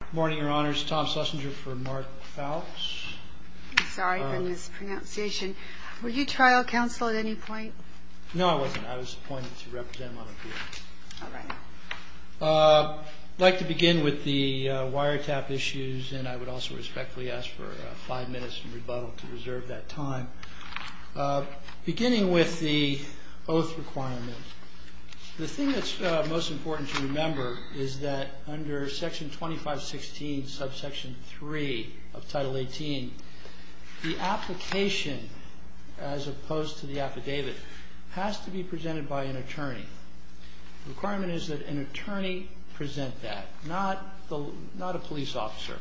I would like to begin with the wiretap issues and I would also respectfully ask for five minutes in rebuttal to reserve that time. Beginning with the oath requirement, the thing that's most important to remember is that under section 2516 subsection 3 of title 18, the application as opposed to the affidavit has to be presented by an attorney. The requirement is that an attorney present that, not a police officer.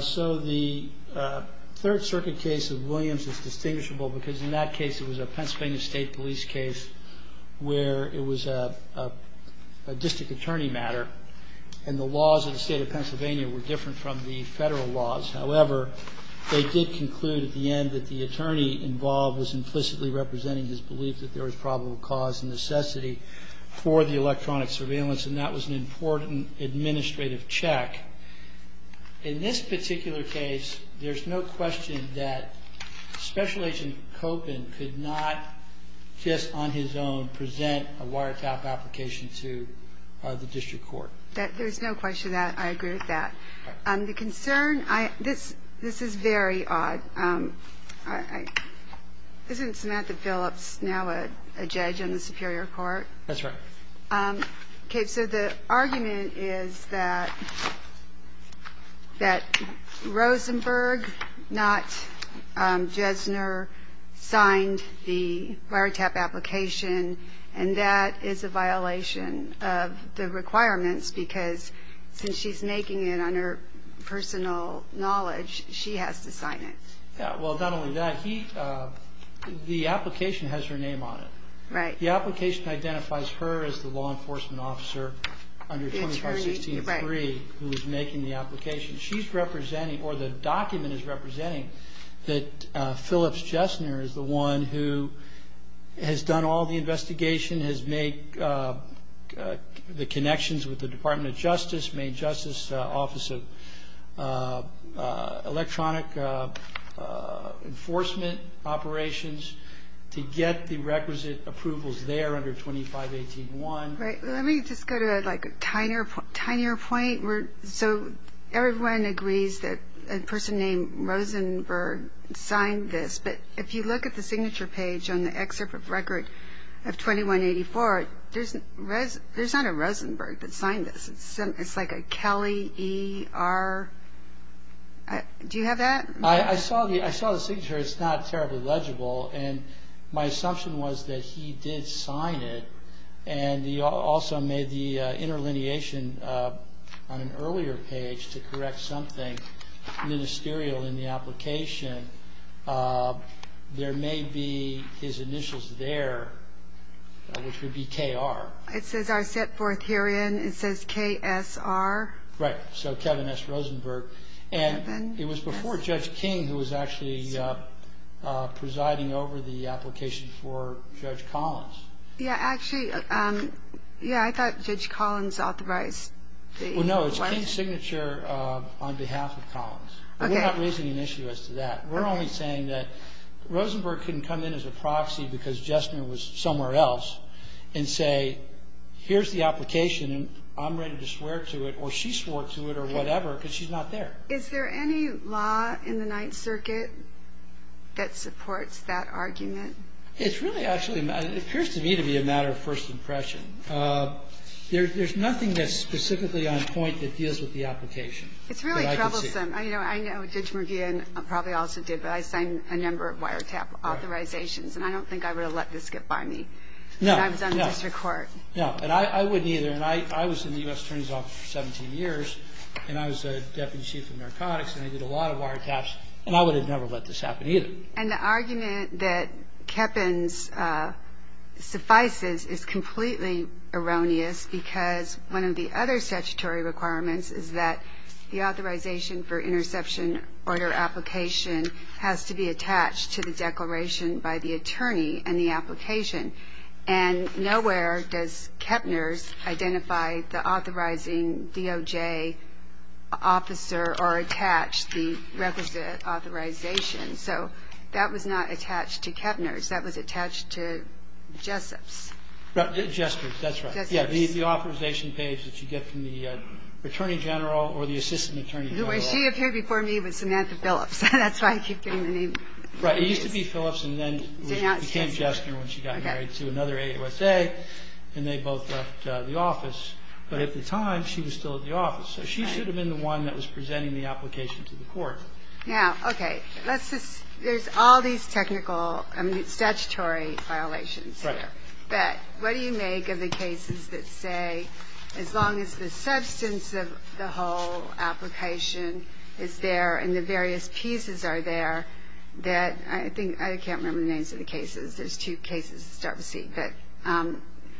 So the Third Circuit case of Williams is distinguishable because in that case it was a Pennsylvania State Police case where it was a district attorney matter and the laws of the state of Pennsylvania were different from the federal laws. However, they did conclude at the end that the attorney involved was implicitly representing his belief that there was probable cause and necessity for the electronic surveillance and that was an important administrative check. In this particular case, there's no question that Special Agent Copin could not just on his own present a wiretap application to the district court. There's no question that I agree with that. The concern, this is very odd. Isn't Samantha Phillips now a judge in the Superior Court? That's right. Okay, so the argument is that Rosenberg, not Jesner, signed the wiretap application and that is a violation of the requirements because since she's making it on her personal knowledge, she has to sign it. Well, not only that, the application has her name on it. Right. The application identifies her as the law enforcement officer under 2516.3 who is making the application. She's representing or the document is representing that Phillips Jesner is the one who has done all the investigation, has made the connections with the Department of Justice, Maine Justice Office of Electronic Enforcement Operations to get the requisite approvals there under 2518.1. Let me just go to a tinier point. So everyone agrees that a person named Rosenberg signed this, but if you look at the signature page on the excerpt of records of 2184, there's not a Rosenberg that signed this. It's like a Kelly, E, R. Do you have that? I saw the signature. It's not terribly legible, and my assumption was that he did sign it, and he also made the interlineation on an earlier page to correct something ministerial in the application. There may be his initials there, which would be K.R. It says, I set forth herein. It says K.S.R. Right, so Kevin S. Rosenberg. And it was before Judge King who was actually presiding over the application for Judge Collins. Yeah, actually, yeah, I thought Judge Collins authorized it. Well, no, it's a signature on behalf of Collins. We're not raising an issue as to that. We're only saying that Rosenberg can come in as a proxy because Jessner was somewhere else and say, here's the application, and I'm ready to swear to it or she swore to it or whatever because she's not there. Is there any law in the Ninth Circuit that supports that argument? It's really actually, it appears to me to be a matter of first impression. There's nothing that's specifically on point that deals with the application. It's really troublesome. I know Judge McGeehan probably also did, but I signed a number of wiretap authorizations, and I don't think I would have let this get by me. No, no. And I've done this to court. No, and I wouldn't either, and I was in the U.S. Attorney's Office for 17 years, and I was the Deputy Chief of Narcotics, and I did a lot of wiretaps, and I would have never let this happen either. And the argument that Kepner suffices is completely erroneous because one of the other statutory requirements is that the authorization for interception order application has to be attached to the declaration by the attorney in the application. And nowhere does Kepner identify the authorizing DOJ officer or attach the requisite authorization. So that was not attached to Kepner's. That was attached to Jessup's. Jessup's. That's right. Yeah, the authorization page that you get from the Attorney General or the Assistant Attorney General. She appeared before me with Samantha Phillips. That's why I keep hearing the name. Right. It used to be Phillips, and then it became Jessup when she got married to another AUSA, and they both left the office. But at the time, she was still at the office. So she should have been the one that was presenting the application to the court. Now, okay, let's just – there's all these technical – I mean, statutory violations here. Right. But what do you make of the cases that say as long as the substance of the whole application is there and the various pieces are there that – I think – I can't remember the names of the cases. There's two cases to start with. But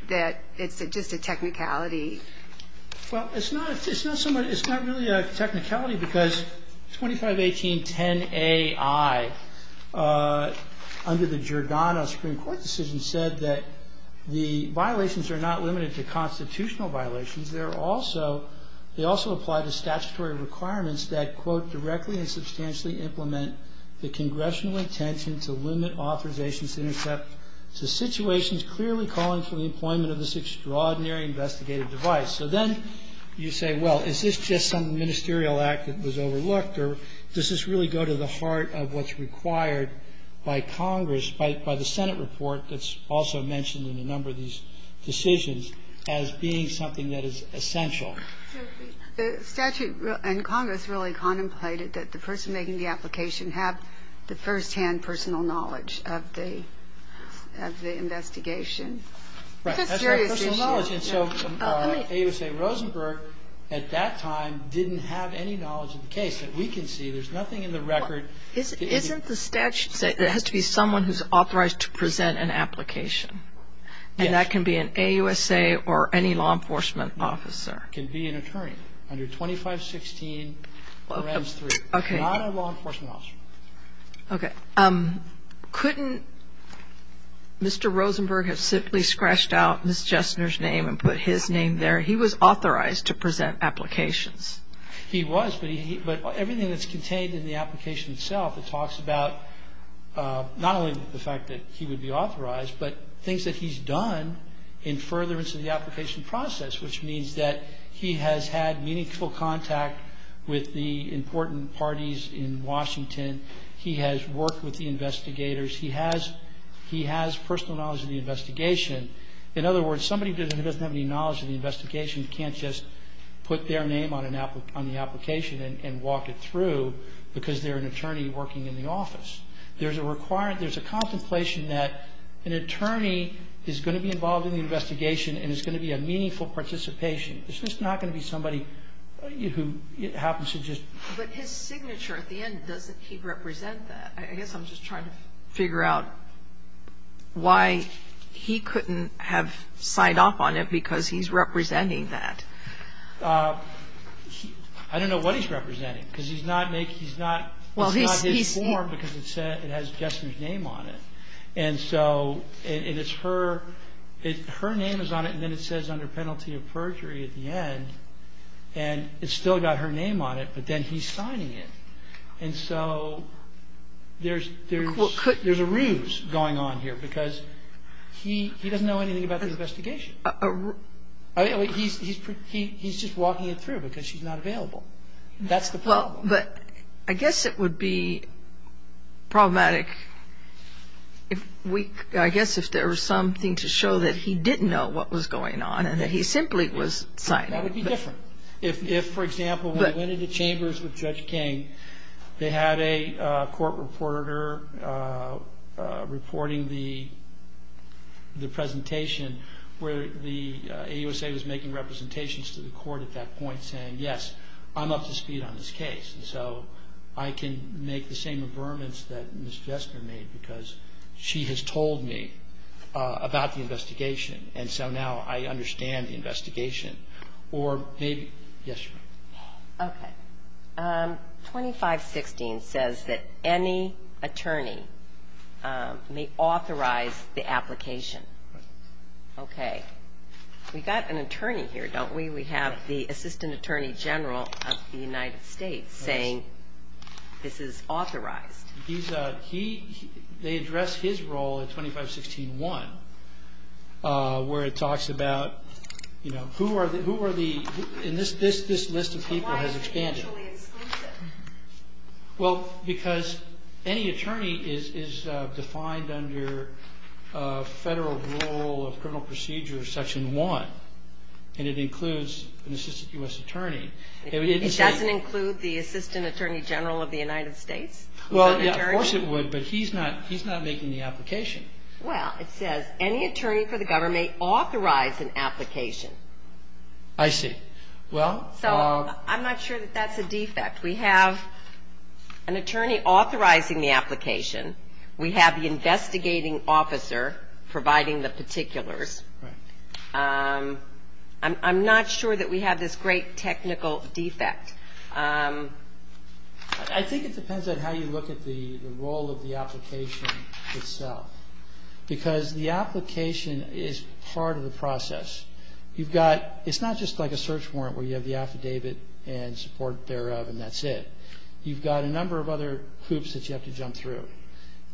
that it's just a technicality. Well, it's not really a technicality because 251810AI, under the Giordano Supreme Court decision, said that the violations are not limited to constitutional violations. They also apply the statutory requirements that, quote, So then you say, well, is this just some ministerial act that was overlooked? Or does this really go to the heart of what's required by Congress, by the Senate report that's also mentioned in a number of these decisions as being something that is essential? The statute in Congress really contemplated that the person making the application have the firsthand personal knowledge of the investigation. Right. That's right, personal knowledge. And so AUSA Rosenberg at that time didn't have any knowledge of the case. But we can see there's nothing in the record – Isn't the statute that it has to be someone who's authorized to present an application? Yes. And that can be an AUSA or any law enforcement officer. It can be an attorney under 2516. Okay. Not a law enforcement officer. Okay. Couldn't Mr. Rosenberg have simply scratched out Ms. Jessner's name and put his name there? He was authorized to present applications. He was, but everything that's contained in the application itself, it talks about not only the fact that he would be authorized, but things that he's done in furtherance of the application process, which means that he has had meaningful contact with the important parties in Washington. He has worked with the investigators. He has personal knowledge of the investigation. In other words, somebody who doesn't have any knowledge of the investigation can't just put their name on the application and walk it through because they're an attorney working in the office. There's a contemplation that an attorney is going to be involved in the investigation and is going to be a meaningful participation. It's just not going to be somebody who happens to just – But his signature at the end, doesn't he represent that? I guess I'm just trying to figure out why he couldn't have signed off on it because he's representing that. I don't know what he's representing because he's not – it's not his form because it has Jessner's name on it. And so it is her – her name is on it, and then it says under penalty of perjury at the end, and it's still got her name on it, but then he's signing it. And so there's – there's a ruse going on here because he doesn't know anything about the investigation. He's just walking it through because she's not available. That's the problem. Well, but I guess it would be problematic if we – It's different. If, for example, we went into chambers with Judge King, they had a court reporter reporting the presentation where the AUSA was making representations to the court at that point saying, yes, I'm up to speed on this case, and so I can make the same affirmance that Ms. Jessner made because she has told me about the investigation, and so now I understand the investigation. Or maybe – yes, ma'am. Okay. 2516 says that any attorney may authorize the application. Okay. We've got an attorney here, don't we? We have the Assistant Attorney General of the United States saying this is authorized. He – they address his role in 2516-1 where it talks about, you know, who are the – and this list of people has expanded. Why is he the only assistant? Well, because any attorney is defined under federal rule of criminal procedure section 1, and it includes an Assistant U.S. Attorney. It doesn't include the Assistant Attorney General of the United States? Well, of course it would, but he's not making the application. Well, it says any attorney for the government may authorize an application. I see. So I'm not sure that that's a defect. We have an attorney authorizing the application. We have the investigating officer providing the particulars. I'm not sure that we have this great technical defect. I think it depends on how you look at the role of the application itself, because the application is part of the process. You've got – it's not just like a search warrant where you have the affidavit and support thereof and that's it. You've got a number of other groups that you have to jump through.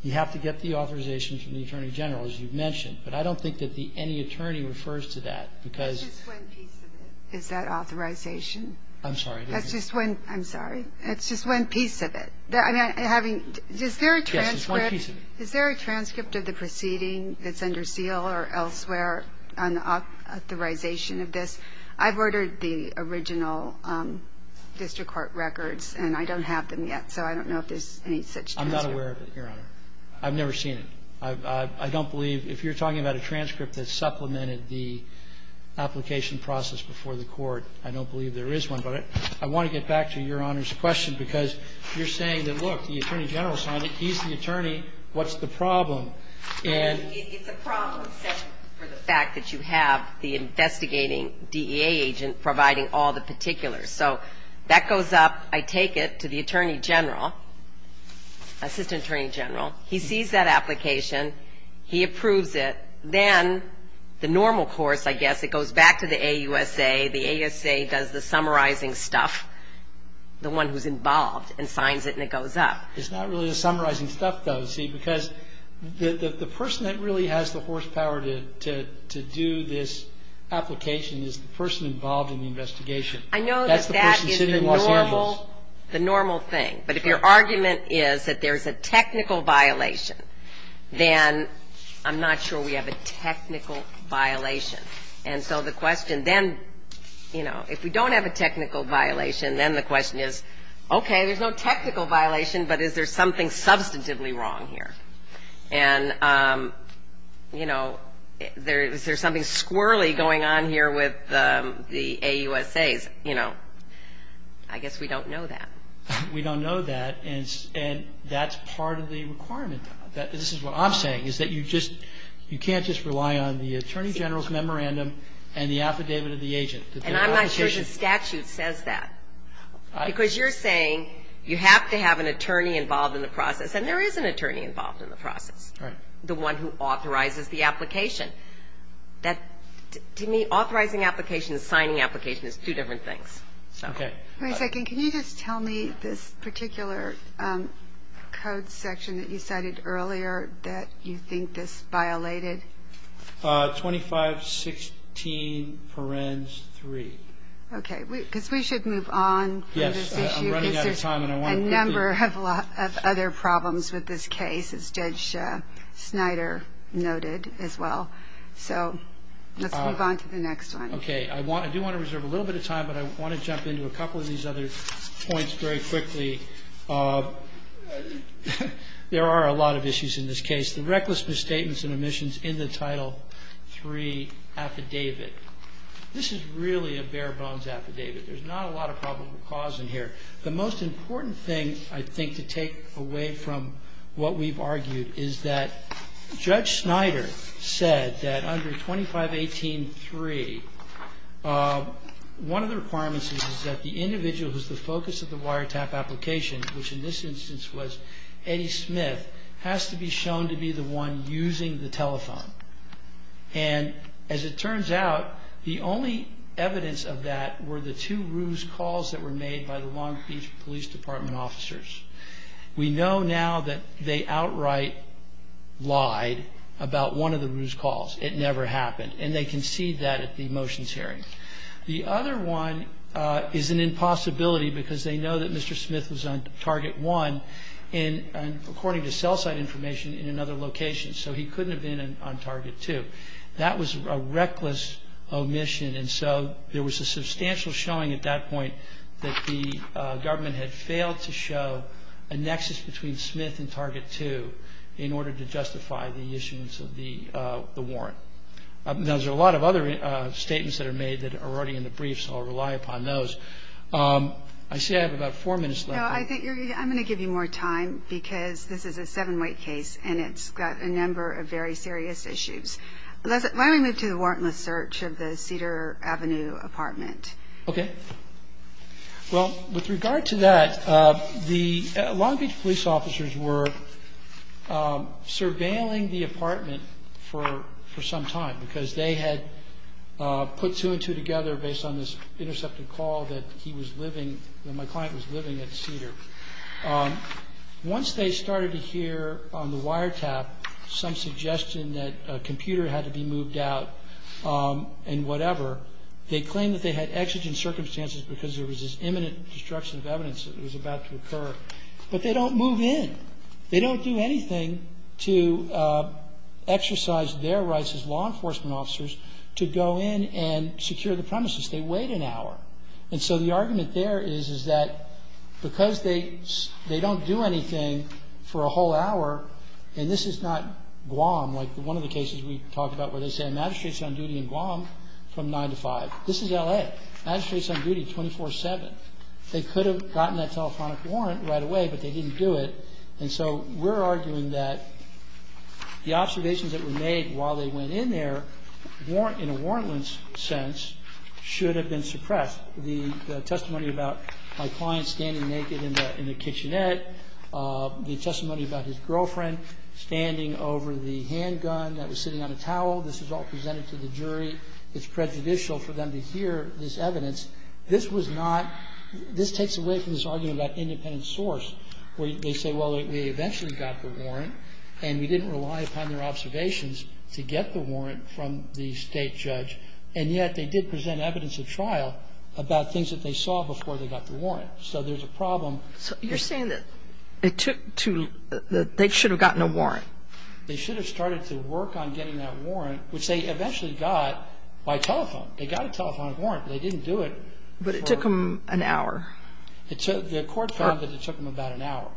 You have to get the authorization from the Attorney General, as you've mentioned, but I don't think that the any attorney refers to that because – That's just one piece of it. Is that authorization? I'm sorry. That's just one – I'm sorry. That's just one piece of it. Having – is there a transcript of the proceeding that's under seal or elsewhere on the authorization of this? I've ordered the original district court records, and I don't have them yet, so I don't know if there's any such thing. I'm not aware of it, Your Honor. I've never seen it. I don't believe – if you're talking about a transcript that supplemented the application process before the court, I don't believe there is one. But I want to get back to Your Honor's question because you're saying that, look, the Attorney General signed it. He's the attorney. What's the problem? It's a problem for the fact that you have the investigating DEA agent providing all the particulars. So that goes up. I take it to the Attorney General, Assistant Attorney General. He sees that application. He approves it. Then the normal courts, I guess, it goes back to the AUSA. The AUSA does the summarizing stuff, the one who's involved, and signs it, and it goes up. It's not really the summarizing stuff, though, see, because the person that really has the horsepower to do this application is the person involved in the investigation. I know, but that is the normal thing. But if your argument is that there's a technical violation, then I'm not sure we have a technical violation. And so the question then, you know, if we don't have a technical violation, then the question is, okay, there's no technical violation, but is there something substantively wrong here? And, you know, is there something squirrelly going on here with the AUSAs? You know, I guess we don't know that. We don't know that, and that's part of the requirement. This is what I'm saying, is that you can't just rely on the Attorney General's memorandum and the affidavit of the agent. And I'm not sure the statute says that. Because you're saying you have to have an attorney involved in the process, and there is an attorney involved in the process, the one who authorizes the application. To me, authorizing application and signing application is two different things. Okay. Wait a second. Can you just tell me this particular code section that you cited earlier that you think is violated? 2516 Forens 3. Okay. Because we should move on. Yes. I'm running out of time. There's a number of other problems with this case, as Judge Snyder noted as well. So let's move on to the next one. Okay. I do want to reserve a little bit of time, but I want to jump into a couple of these other points very quickly. There are a lot of issues in this case. The reckless misstatements and omissions in the Title III affidavit. This is really a bare-bones affidavit. There's not a lot of probable cause in here. The most important thing, I think, to take away from what we've argued is that Judge Snyder said that under 2518.3, one of the requirements is that the individual who is the focus of the wiretap application, which in this instance was Eddie Smith, has to be shown to be the one using the telephone. And as it turns out, the only evidence of that were the two ruse calls that were made by the Long Beach Police Department officers. We know now that they outright lied about one of the ruse calls. It never happened. And they concede that at the motions hearing. The other one is an impossibility because they know that Mr. Smith was on Target 1, according to cell site information, in another location. So he couldn't have been on Target 2. That was a reckless omission, and so there was a substantial showing at that point that the government had failed to show a nexus between Smith and Target 2 in order to justify the issuance of the warrant. There's a lot of other statements that are made that are already in the brief, so I'll rely upon those. I see I have about four minutes left. I'm going to give you more time because this is a seven-week case, and it's got a number of very serious issues. Why don't we move to the warrantless search of the Cedar Avenue apartment? Okay. Well, with regard to that, the Long Beach police officers were surveilling the apartment for some time because they had put two and two together based on this intercepting call that my client was living at the Cedar. Once they started to hear on the wiretap some suggestion that a computer had to be moved out and whatever, they claimed that they had exigent circumstances because there was this imminent destruction of governance that was about to occur, but they don't move in. They don't do anything to exercise their rights as law enforcement officers to go in and secure the premises. They wait an hour. And so the argument there is that because they don't do anything for a whole hour, and this is not Guam. Like one of the cases we talked about where they say a magistrate's on duty in Guam from 9 to 5. This is L.A. A magistrate's on duty 24-7. They could have gotten that telephonic warrant right away, but they didn't do it. And so we're arguing that the observations that were made while they went in there in a warrantless sense should have been suppressed. The testimony about my client standing naked in the kitchenette, the testimony about his girlfriend standing over the handgun that was sitting on a towel. This was all presented to the jury. It's prejudicial for them to hear this evidence. This was not – this takes away from this argument about independent source where they say, well, we eventually got the warrant, and we didn't rely upon their observations to get the warrant from the state judge, and yet they did present evidence at trial about things that they saw before they got the warrant. So there's a problem. You're saying that they should have gotten a warrant. They should have started to work on getting that warrant, which they eventually got by telephone. They got a telephonic warrant, but they didn't do it. But it took them an hour. The court found that it took them about an hour.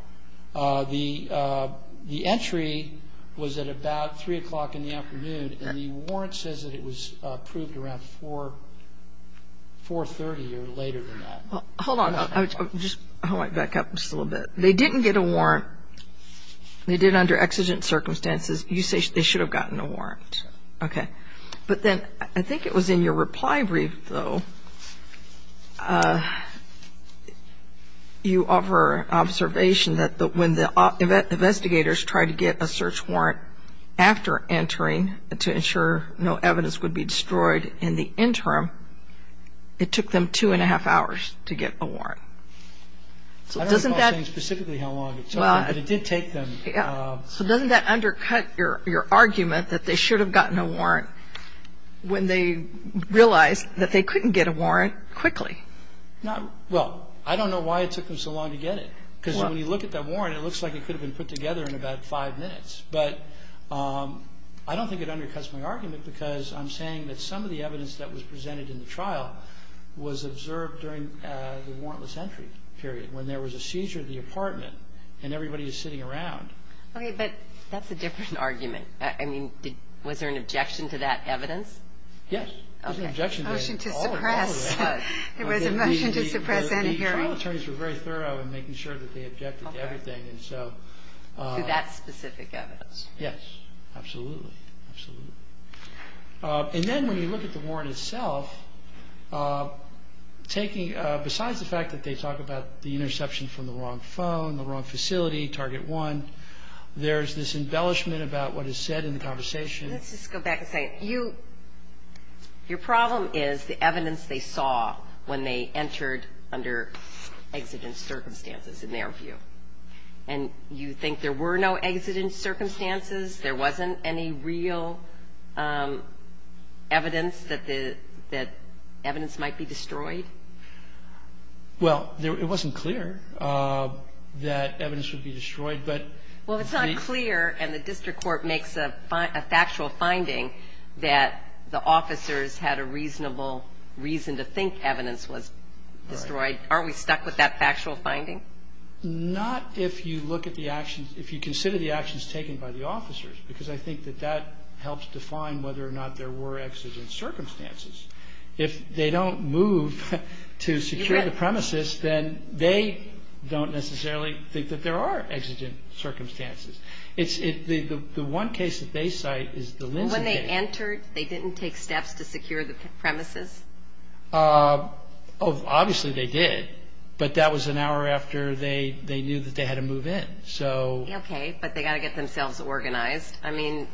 The entry was at about 3 o'clock in the afternoon, and the warrant says that it was approved around 4-30 or later than that. Hold on. I want to back up just a little bit. They didn't get a warrant. They did under exigent circumstances. You say they should have gotten a warrant. Okay. But then I think it was in your reply brief, though. You offer observation that when the investigators tried to get a search warrant after entering to ensure no evidence would be destroyed in the interim, it took them two and a half hours to get a warrant. I don't recall saying specifically how long it took, but it did take them. So doesn't that undercut your argument that they should have gotten a warrant when they realized that they couldn't get a warrant quickly? Well, I don't know why it took them so long to get it. Because when you look at that warrant, it looks like it could have been put together in about five minutes. But I don't think it undercuts my argument because I'm saying that some of the evidence that was presented in the trial was observed during the warrantless entry period. When there was a seizure of the apartment and everybody was sitting around. Okay, but that's a different argument. I mean, was there an objection to that evidence? Yes. There was an objection to all of that. There was a motion to suppress any hearing. The trial attorneys were very thorough in making sure that they objected to everything. To that specific evidence. Yes. Absolutely. And then when you look at the warrant itself, besides the fact that they talk about the interception from the wrong phone, the wrong facility, target one, there's this embellishment about what is said in the conversation. Let's just go back a second. Your problem is the evidence they saw when they entered under exigent circumstances, in their view. And you think there were no exigent circumstances? There wasn't any real evidence that evidence might be destroyed? Well, it wasn't clear that evidence would be destroyed. Well, it's not clear, and the district court makes a factual finding that the officers had a reasonable reason to think evidence was destroyed. Aren't we stuck with that factual finding? Not if you look at the actions, if you consider the actions taken by the officers, because I think that that helps define whether or not there were exigent circumstances. If they don't move to secure the premises, then they don't necessarily think that there are exigent circumstances. The one case at Bayside is the Linda case. When they entered, they didn't take steps to secure the premises? Obviously they did, but that was an hour after they knew that they had to move in. Okay, but they've got to get themselves organized. I mean,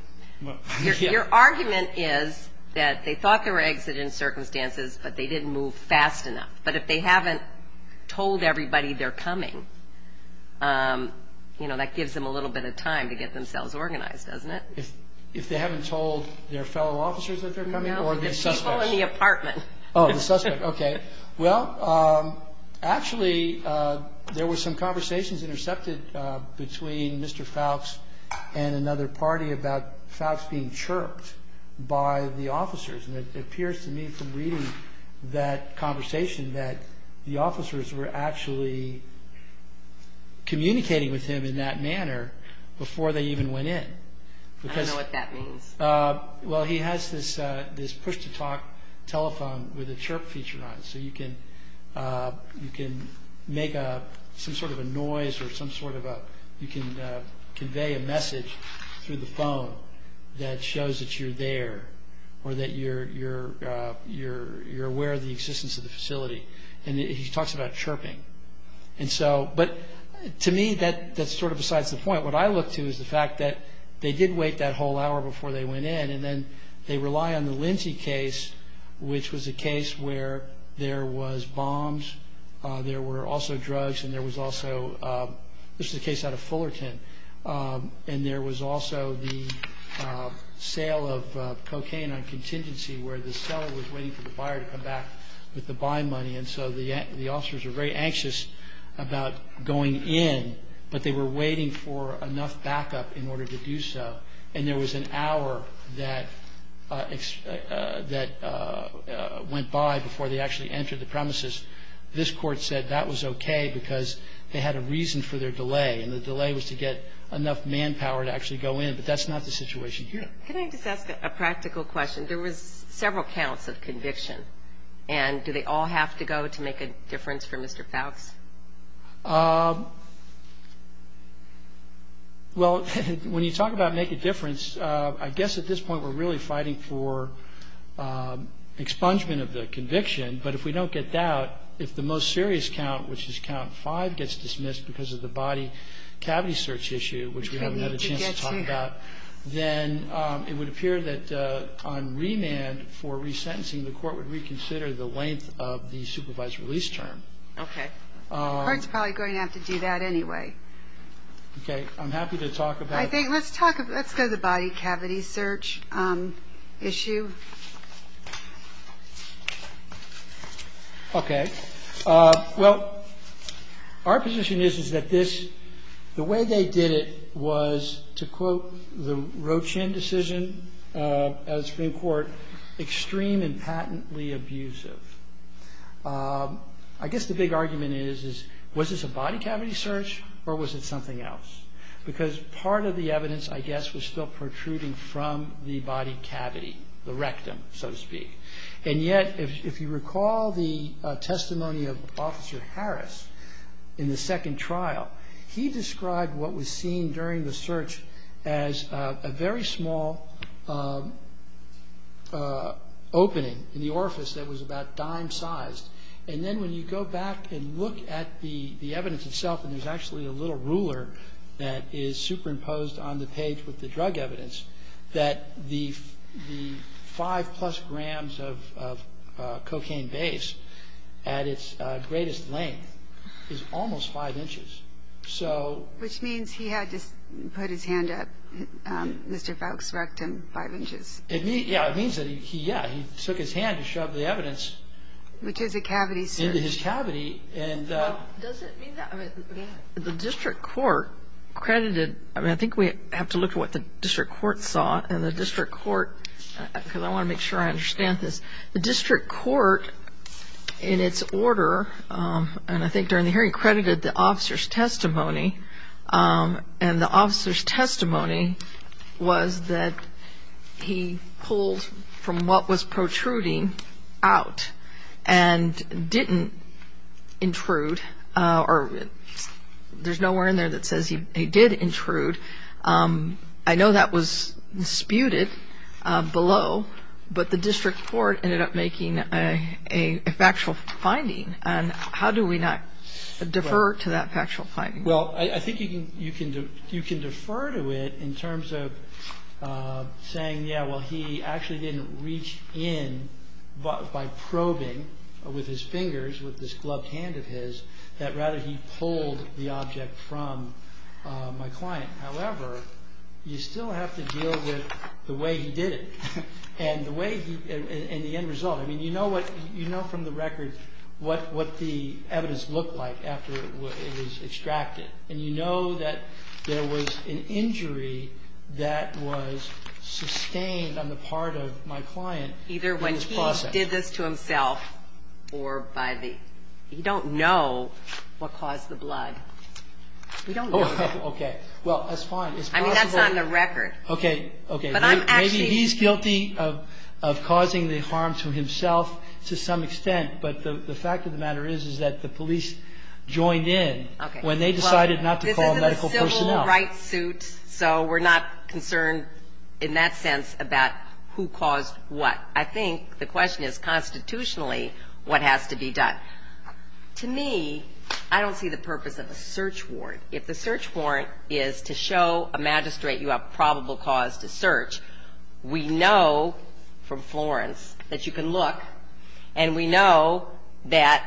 your argument is that they thought there were exigent circumstances, but they didn't move fast enough. But if they haven't told everybody they're coming, you know, that gives them a little bit of time to get themselves organized, doesn't it? If they haven't told their fellow officers that they're coming? The people in the apartment. Oh, the suspect, okay. Well, actually, there were some conversations intercepted between Mr. Fouts and another party about Fouts being chirped by the officers. And it appears to me from reading that conversation that the officers were actually communicating with him in that manner before they even went in. I don't know what that means. Well, he has this push-to-talk telephone with a chirp feature on it, so you can make some sort of a noise or you can convey a message through the phone that shows that you're there or that you're aware of the existence of the facility. And he talks about chirping. But to me, that's sort of besides the point. What I look to is the fact that they did wait that whole hour before they went in, and then they rely on the Lindsey case, which was a case where there was bombs, there were also drugs, and there was also the case out of Fullerton, and there was also the sale of cocaine on contingency where the seller was waiting for the buyer to come back with the buy money. And so the officers were very anxious about going in, but they were waiting for enough backup in order to do so. And there was an hour that went by before they actually entered the premises. This court said that was okay because they had a reason for their delay, and the delay was to get enough manpower to actually go in. But that's not the situation here. Can I ask a practical question? There were several counts of conviction, and do they all have to go to make a difference for Mr. Fowkes? Well, when you talk about make a difference, I guess at this point we're really fighting for expungement of the conviction. But if we don't get doubt, if the most serious count, which is count five, gets dismissed because of the body cavity search issue, which we have another chance to talk about, then it would appear that on remand for resentencing, the court would reconsider the length of the supervised release term. Okay. The court's probably going to have to do that anyway. Okay. I'm happy to talk about it. I think let's talk about the body cavity search issue. Okay. Well, our position is that the way they did it was, to quote the Rochin decision of the Supreme Court, extreme and patently abusive. I guess the big argument is, was this a body cavity search or was it something else? Because part of the evidence, I guess, was still protruding from the body cavity, the rectum, so to speak. And yet, if you recall the testimony of Officer Harris in the second trial, he described what was seen during the search as a very small opening in the orifice that was about dime-sized. And then when you go back and look at the evidence itself, and there's actually a little ruler that is superimposed on the page with the drug evidence, that the five-plus grams of cocaine base at its greatest length is almost five inches. Which means he had to put his hand up, Mr. Faulk's rectum, five inches. Yeah. It means that he, yeah, he shook his hand to shove the evidence into his cavity. The district court credited, I mean, I think we have to look at what the district court thought, and the district court, because I want to make sure I understand this, the district court in its order, and I think during the hearing, credited the officer's testimony. And the officer's testimony was that he pulled from what was protruding out and didn't intrude, or there's nowhere in there that says he did intrude. I know that was disputed below, but the district court ended up making a factual finding. And how do we not defer to that factual finding? Well, I think you can defer to it in terms of saying, yeah, well, he actually didn't reach in by probing with his fingers, with this gloved hand of his, that rather he pulled the object from my client. However, you still have to deal with the way he did it and the end result. I mean, you know from the record what the evidence looked like after it was extracted. And you know that there was an injury that was sustained on the part of my client. Either when he did this to himself or by the, you don't know what caused the blood. Oh, okay. Well, that's fine. I mean, that's on the record. Okay, okay. Maybe he's guilty of causing the harm to himself to some extent, but the fact of the matter is that the police joined in when they decided not to call medical personnel. This is a civil rights suit, so we're not concerned in that sense about who caused what. I think the question is constitutionally what has to be done. To me, I don't see the purpose of a search warrant. If the search warrant is to show a magistrate you have probable cause to search, we know from Florence that you can look, and we know that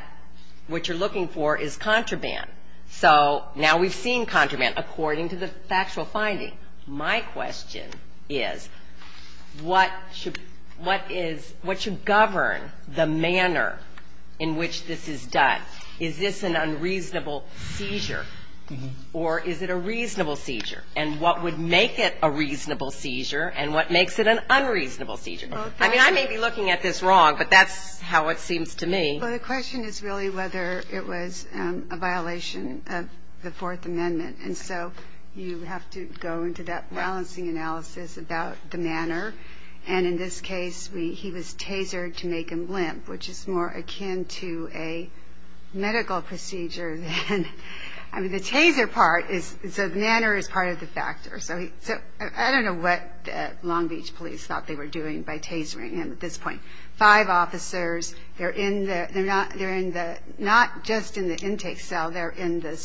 what you're looking for is contraband. So now we've seen contraband according to the factual finding. My question is what should govern the manner in which this is done? Is this an unreasonable seizure or is it a reasonable seizure? And what would make it a reasonable seizure and what makes it an unreasonable seizure? I mean, I may be looking at this wrong, but that's how it seems to me. Well, the question is really whether it was a violation of the Fourth Amendment. And so you have to go into that balancing analysis about the manner. And in this case, he was tasered to make him limp, which is more akin to a medical procedure than the taser part. So the manner is part of the factor. I don't know what Long Beach police thought they were doing by tasering him at this point. Five officers, they're not just in the intake cell, they're in the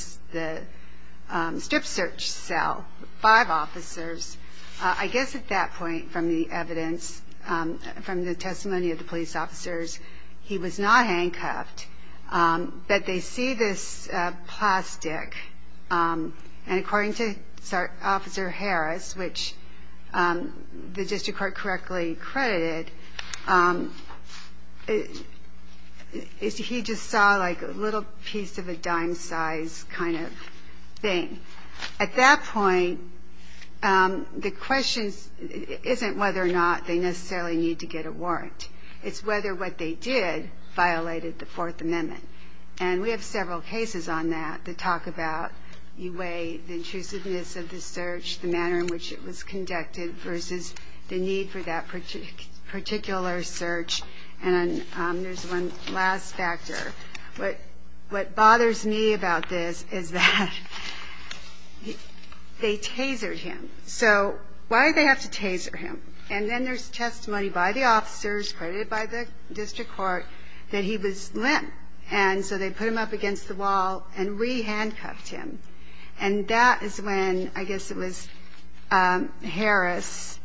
strip search cell. Five officers. I guess at that point from the evidence, from the testimony of the police officers, he was not handcuffed. But they see this plastic. And according to Officer Harris, which the district court correctly credited, he just saw, like, a little piece of a dime-sized kind of thing. At that point, the question isn't whether or not they necessarily need to get a warrant. It's whether what they did violated the Fourth Amendment. And we have several cases on that that talk about the way, the intrusiveness of the search, the manner in which it was conducted versus the need for that particular search. And there's one last factor. What bothers me about this is that they tasered him. So why did they have to taser him? And then there's testimony by the officers, credited by the district court, that he was limp. And so they put him up against the wall and re-handcuffed him. And that is when, I guess it was Harris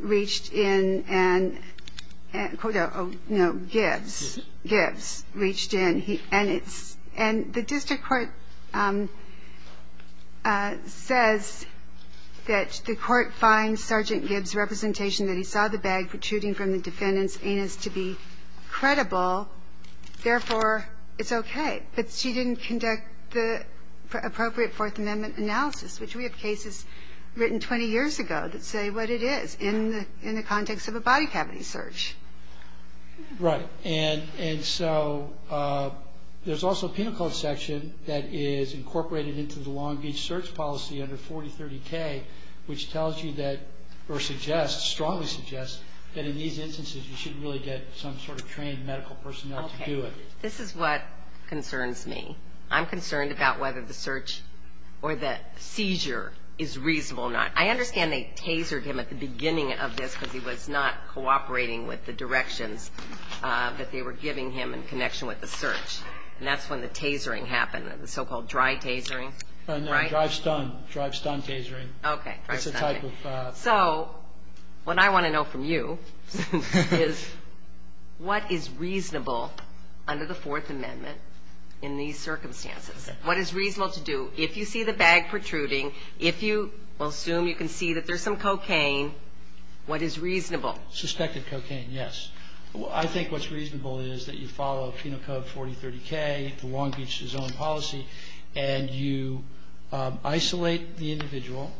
reached in and, no, Gibbs reached in. And the district court says that the court finds Sergeant Gibbs' representation that he saw the bag protruding from the defendant's anus to be credible. Therefore, it's okay. But she didn't conduct the appropriate Fourth Amendment analysis, which we have cases written 20 years ago that say what it is in the context of a body cavity search. Right. And so there's also a pinnacle section that is incorporated into the Long Beach search policy under 4030K, which tells you that, or suggests, strongly suggests, that in these instances you should really get some sort of trained medical personnel to do it. Okay. This is what concerns me. I'm concerned about whether the search or the seizure is reasonable or not. I understand they tasered him at the beginning of this because he was not cooperating with the directions that they were giving him in connection with the search. And that's when the tasering happened, the so-called dry tasering. No, dry stun, dry stun tasering. Okay. So what I want to know from you is what is reasonable under the Fourth Amendment in these circumstances? What is reasonable to do if you see the bag protruding, if you assume you can see that there's some cocaine, what is reasonable? Suspected cocaine, yes. I think what's reasonable is that you follow penal code 4030K, Long Beach's own policy, and you isolate the individual,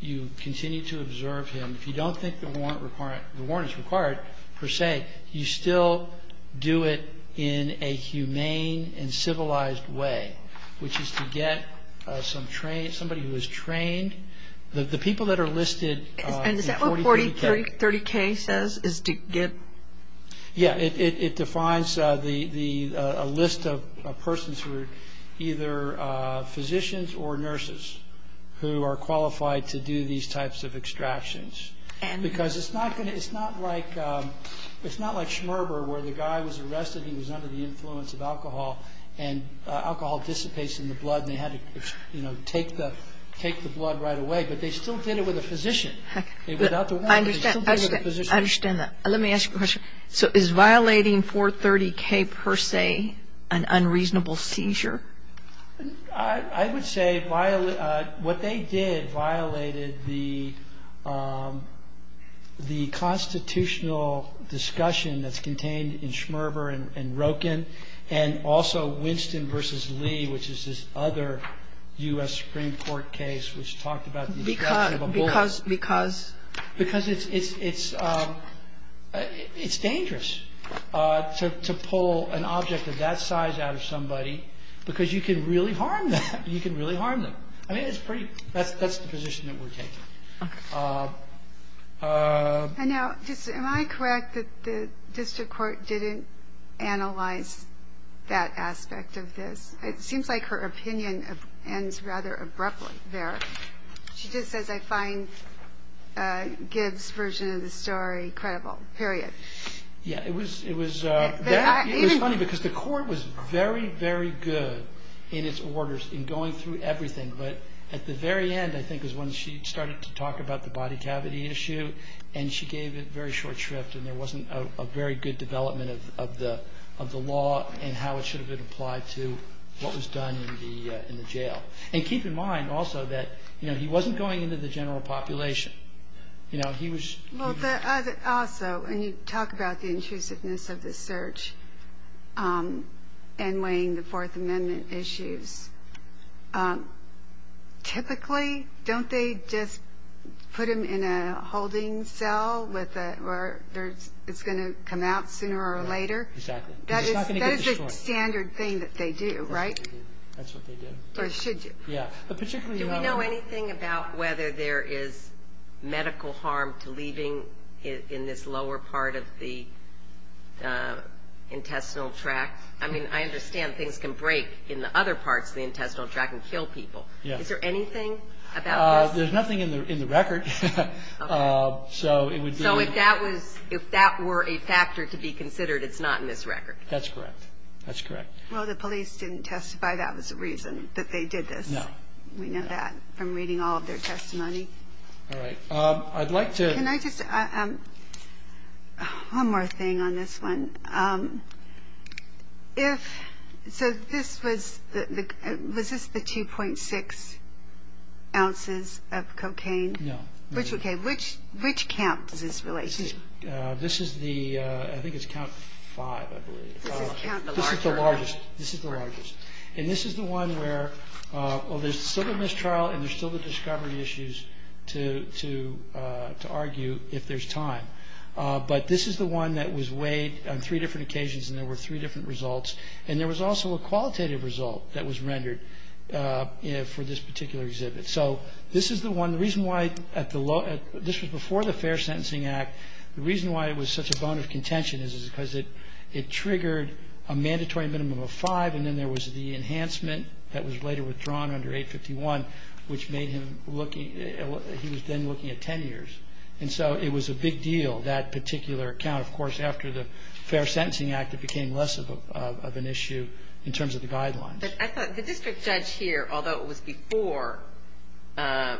you continue to observe him. If you don't think the warrant is required, per se, you still do it in a humane and civilized way, which is to get somebody who is trained. The people that are listed in 4030K. And is that what 4030K says, is to get? Yeah, it defines a list of persons who are either physicians or nurses who are qualified to do these types of extractions because it's not like Schmerber where the guy was arrested, he was under the influence of alcohol, and alcohol dissipates in the blood and they had to take the blood right away, but they still did it with a physician. I understand that. Let me ask you a question. So is violating 430K per se an unreasonable seizure? I would say what they did violated the constitutional discussion that's contained in Schmerber and Roken and also Winston v. Lee, which is this other U.S. Supreme Court case which talked about the extraction of a bullet. Because? Because it's dangerous to pull an object of that size out of somebody because you can really harm them. That's the position that we're taking. Am I correct that the district court didn't analyze that aspect of this? It seems like her opinion ends rather abruptly there. She just says I find Gibbs' version of the story credible, period. Yeah, it was funny because the court was very, very good in its orders in going through everything, but at the very end, I think, is when she started to talk about the body cavity issue and she gave it very short shrift and there wasn't a very good development of the law and how it should have been applied to what was done in the jail. And keep in mind also that he wasn't going into the general population. Also, when you talk about the intrusiveness of the search and weighing the Fourth Amendment issues, typically don't they just put him in a holding cell where it's going to come out sooner or later? Exactly. That is a standard thing that they do, right? That's what they do. Or should do. Yeah. Do we know anything about whether there is medical harm to leaving in this lower part of the intestinal tract? I mean, I understand things can break in the other parts of the intestinal tract and kill people. Is there anything about that? There's nothing in the record. So if that were a factor to be considered, it's not in this record? That's correct. That's correct. Well, the police didn't testify. That was the reason that they did this. No. We know that from reading all of their testimony. All right. I'd like to – Can I just – one more thing on this one. If – so this was – was this the 2.6 ounces of cocaine? No. Okay. Which count is this related to? This is the – I think it's count five, I believe. This is the largest. This is the largest. And this is the one where – well, there's still the mistrial and there's still the discovery issues to argue if there's time. But this is the one that was weighed on three different occasions and there were three different results. And there was also a qualitative result that was rendered for this particular exhibit. So this is the one – the reason why at the – this was before the Fair Sentencing Act. The reason why it was such a bone of contention is because it triggered a mandatory minimum of five and then there was the enhancement that was later withdrawn under 851, which made him looking – he was then looking at 10 years. And so it was a big deal, that particular count, of course, after the Fair Sentencing Act it became less of an issue in terms of the guidelines. But I thought the district judge here, although it was before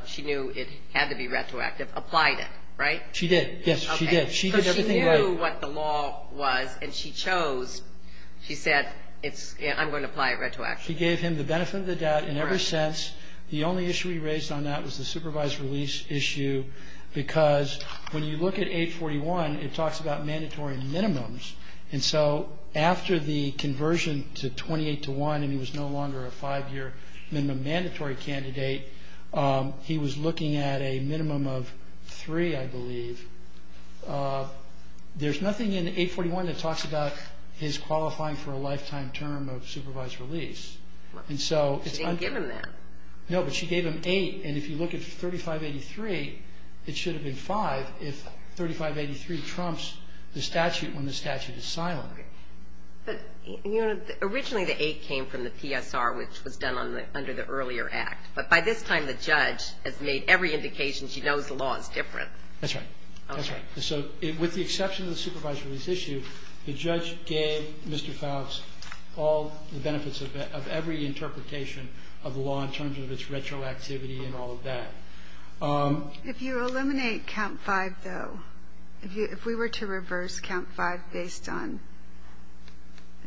she knew it had to be retroactive, applied it, right? She did. Yes, she did. She did everything right. Because she knew what the law was and she chose. She said, I'm going to apply it retroactively. She gave him the benefit of the doubt in every sense. The only issue he raised on that was the supervised release issue because when you look at 841, it talks about mandatory minimums. And so after the conversion to 28 to 1 and he was no longer a five-year minimum mandatory candidate, he was looking at a minimum of three, I believe. There's nothing in 841 that talks about his qualifying for a lifetime term of supervised release. She didn't give him that. No, but she gave him eight. And if you look at 3583, it should have been five if 3583 trumps the statute when the statute is silent. But, you know, originally the eight came from the PSR, which was done under the earlier act. But by this time, the judge has made every indication she knows the law is different. That's right. That's right. So with the exception of the supervised release issue, the judge gave Mr. Faust all the benefits of every interpretation of law in terms of its retroactivity and all of that. If you eliminate count five, though, if we were to reverse count five based on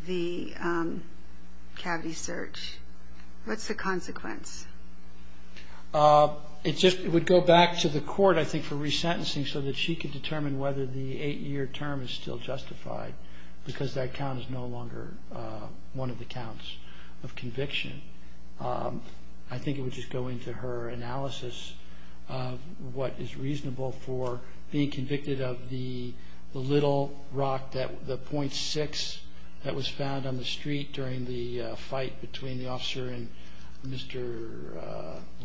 the CAVI search, what's the consequence? It would go back to the court, I think, for resentencing so that she could determine whether the eight-year term is still justified because that count is no longer one of the counts of conviction. I think it would just go into her analysis of what is reasonable for being convicted of the little rock, the .6 that was found on the street during the fight between the officer and Mr.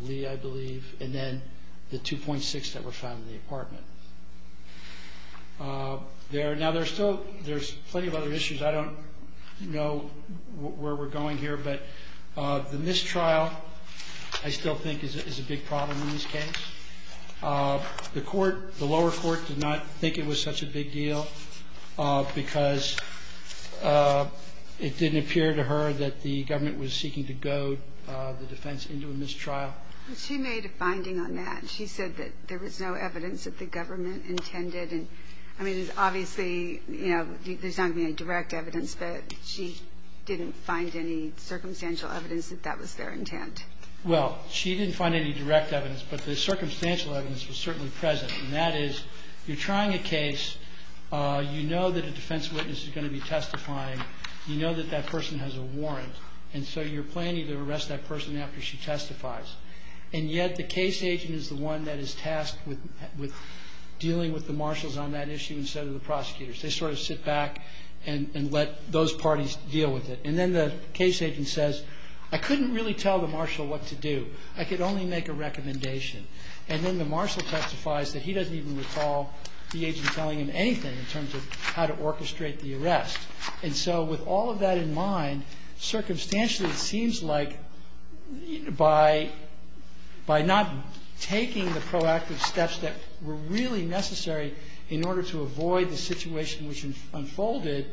Lee, I believe, and then the 2.6 that were found in the apartment. Now, there's plenty of other issues. I don't know where we're going here, but the mistrial, I still think, is a big problem in this case. The lower court did not think it was such a big deal because it didn't appear to her that the government was seeking to goad the defense into a mistrial. She made a finding on that. She said that there was no evidence that the government intended. Obviously, there's not any direct evidence, but she didn't find any circumstantial evidence that that was their intent. Well, she didn't find any direct evidence, but the circumstantial evidence was certainly present, and that is you're trying a case, you know that a defense witness is going to be testifying, you know that that person has a warrant, and so you're planning to arrest that person after she testifies. And yet the case agent is the one that is tasked with dealing with the marshals on that issue instead of the prosecutors. They sort of sit back and let those parties deal with it. And then the case agent says, I couldn't really tell the marshal what to do. I could only make a recommendation. And then the marshal testifies that he doesn't even recall the agent telling him anything in terms of how to orchestrate the arrest. And so with all of that in mind, circumstantially it seems like by not taking the proactive steps that were really necessary in order to avoid the situation which unfolded,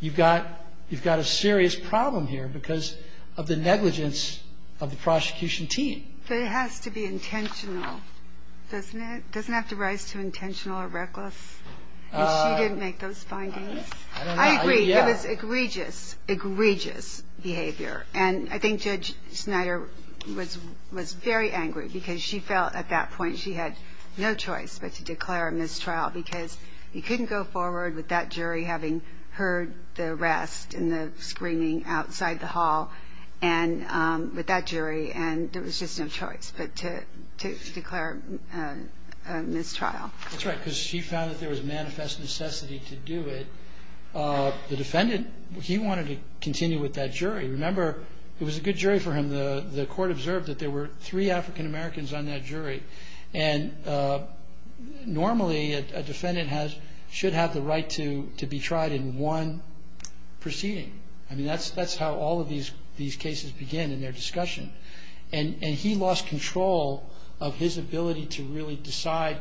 you've got a serious problem here because of the negligence of the prosecution team. So it has to be intentional, doesn't it? You didn't make those findings? It was egregious, egregious behavior. And I think Judge Schneider was very angry because she felt at that point she had no choice but to declare a mistrial because you couldn't go forward with that jury having heard the arrest and the screaming outside the hall with that jury, and there was just no choice but to declare a mistrial. That's right, because she found that there was manifest necessity to do it. The defendant, he wanted to continue with that jury. Remember, it was a good jury for him. The court observed that there were three African Americans on that jury, and normally a defendant should have the right to be tried in one proceeding. I mean, that's how all of these cases begin in their discussion. And he lost control of his ability to really decide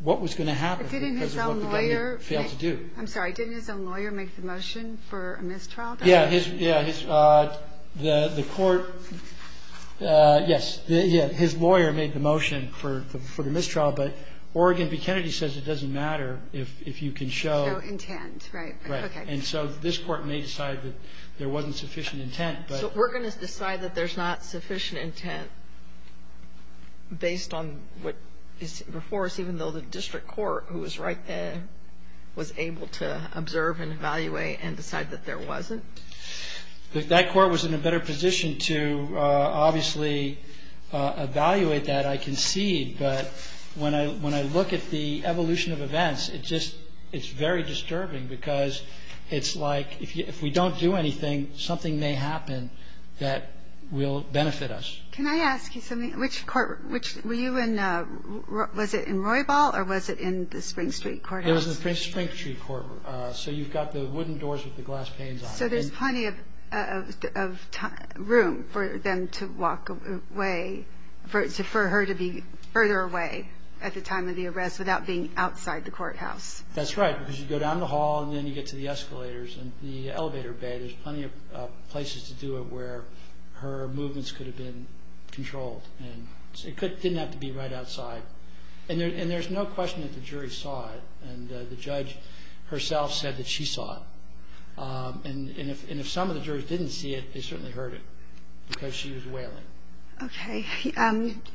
what was going to happen. Didn't his own lawyer make the motion for a mistrial? Yeah, his lawyer made the motion for the mistrial, but Oregon v. Kennedy says it doesn't matter if you can show... No intent, right. Right, and so this court may decide that there wasn't sufficient intent. We're going to decide that there's not sufficient intent based on what is before us, even though the district court, who was right there, was able to observe and evaluate and decide that there wasn't? That court was in a better position to obviously evaluate that, I concede, but when I look at the evolution of events, it's very disturbing because it's like if we don't do anything, something may happen that will benefit us. Can I ask you something? Were you in Roybal or was it in the Spring Street Courthouse? It was the Spring Street Courthouse, so you've got the wooden doors with the glass panes on them. So there's plenty of room for them to walk away, for her to be further away at the time of the arrest without being outside the courthouse. That's right, because you go down the hall and then you get to the escalators and the elevator bed. There's plenty of places to do it where her movements could have been controlled. It didn't have to be right outside. And there's no question that the jury saw it, and the judge herself said that she saw it. And if some of the jurors didn't see it, they certainly heard it because she was wailing. Okay.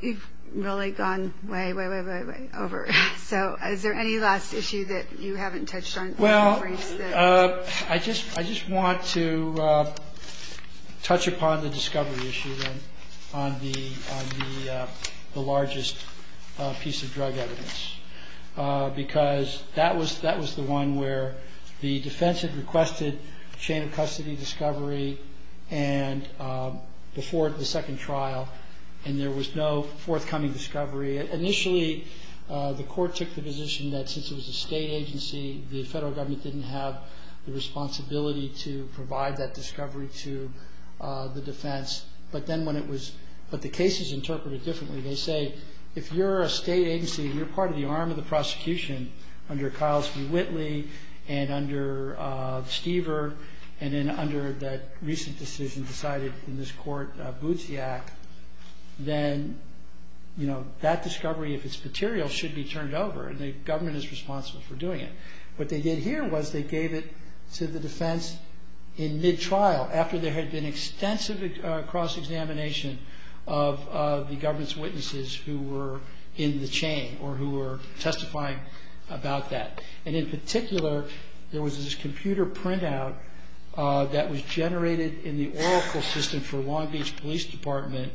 You've really gone way, way, way, way, way over. So is there any last issue that you haven't touched on? Well, I just want to touch upon the discovery issue on the largest piece of drug evidence, because that was the one where the defense had requested a chain of custody discovery before the second trial, and there was no forthcoming discovery. Initially, the court took the position that since it was a state agency, the federal government didn't have the responsibility to provide that discovery to the defense. But then when it was – but the cases interpret it differently. They say, if you're a state agency and you're part of the arm of the prosecution under Kyles v. Whitley and under Stever and then under that recent decision decided in this court, Butziak, then that discovery, if it's material, should be turned over, and the government is responsible for doing it. What they did here was they gave it to the defense in mid-trial, after there had been extensive cross-examination of the government's witnesses who were in the chain or who were testifying about that. And in particular, there was this computer printout that was generated in the Oracle system for Long Beach Police Department,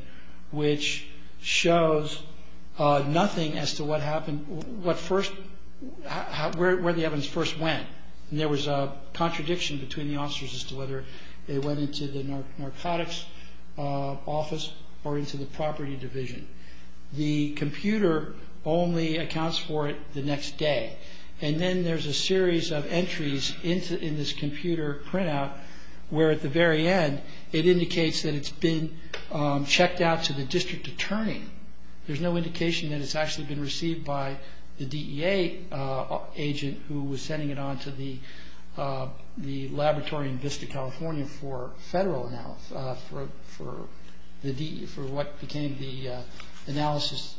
which shows nothing as to what happened – what first – where the evidence first went. There was a contradiction between the officers as to whether they went into the narcotics office or into the property division. The computer only accounts for it the next day. And then there's a series of entries in this computer printout where, at the very end, it indicates that it's been checked out to the district attorney. There's no indication that it's actually been received by the DEA agent who was sending it on to the laboratory in Vista, California for federal amounts for what became the analysis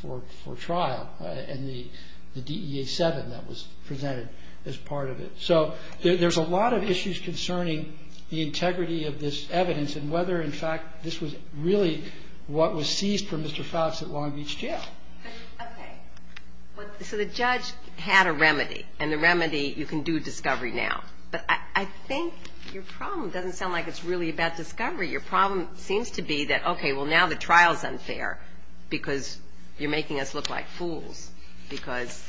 for trial. And the DEA-7 that was presented as part of it. So there's a lot of issues concerning the integrity of this evidence and whether, in fact, this was really what was seized from Mr. Fox at Long Beach Jail. Okay. So the judge had a remedy, and the remedy – you can do discovery now. But I think your problem doesn't sound like it's really about discovery. Your problem seems to be that, okay, well, now the trial is unfair because you're making us look like fools. Because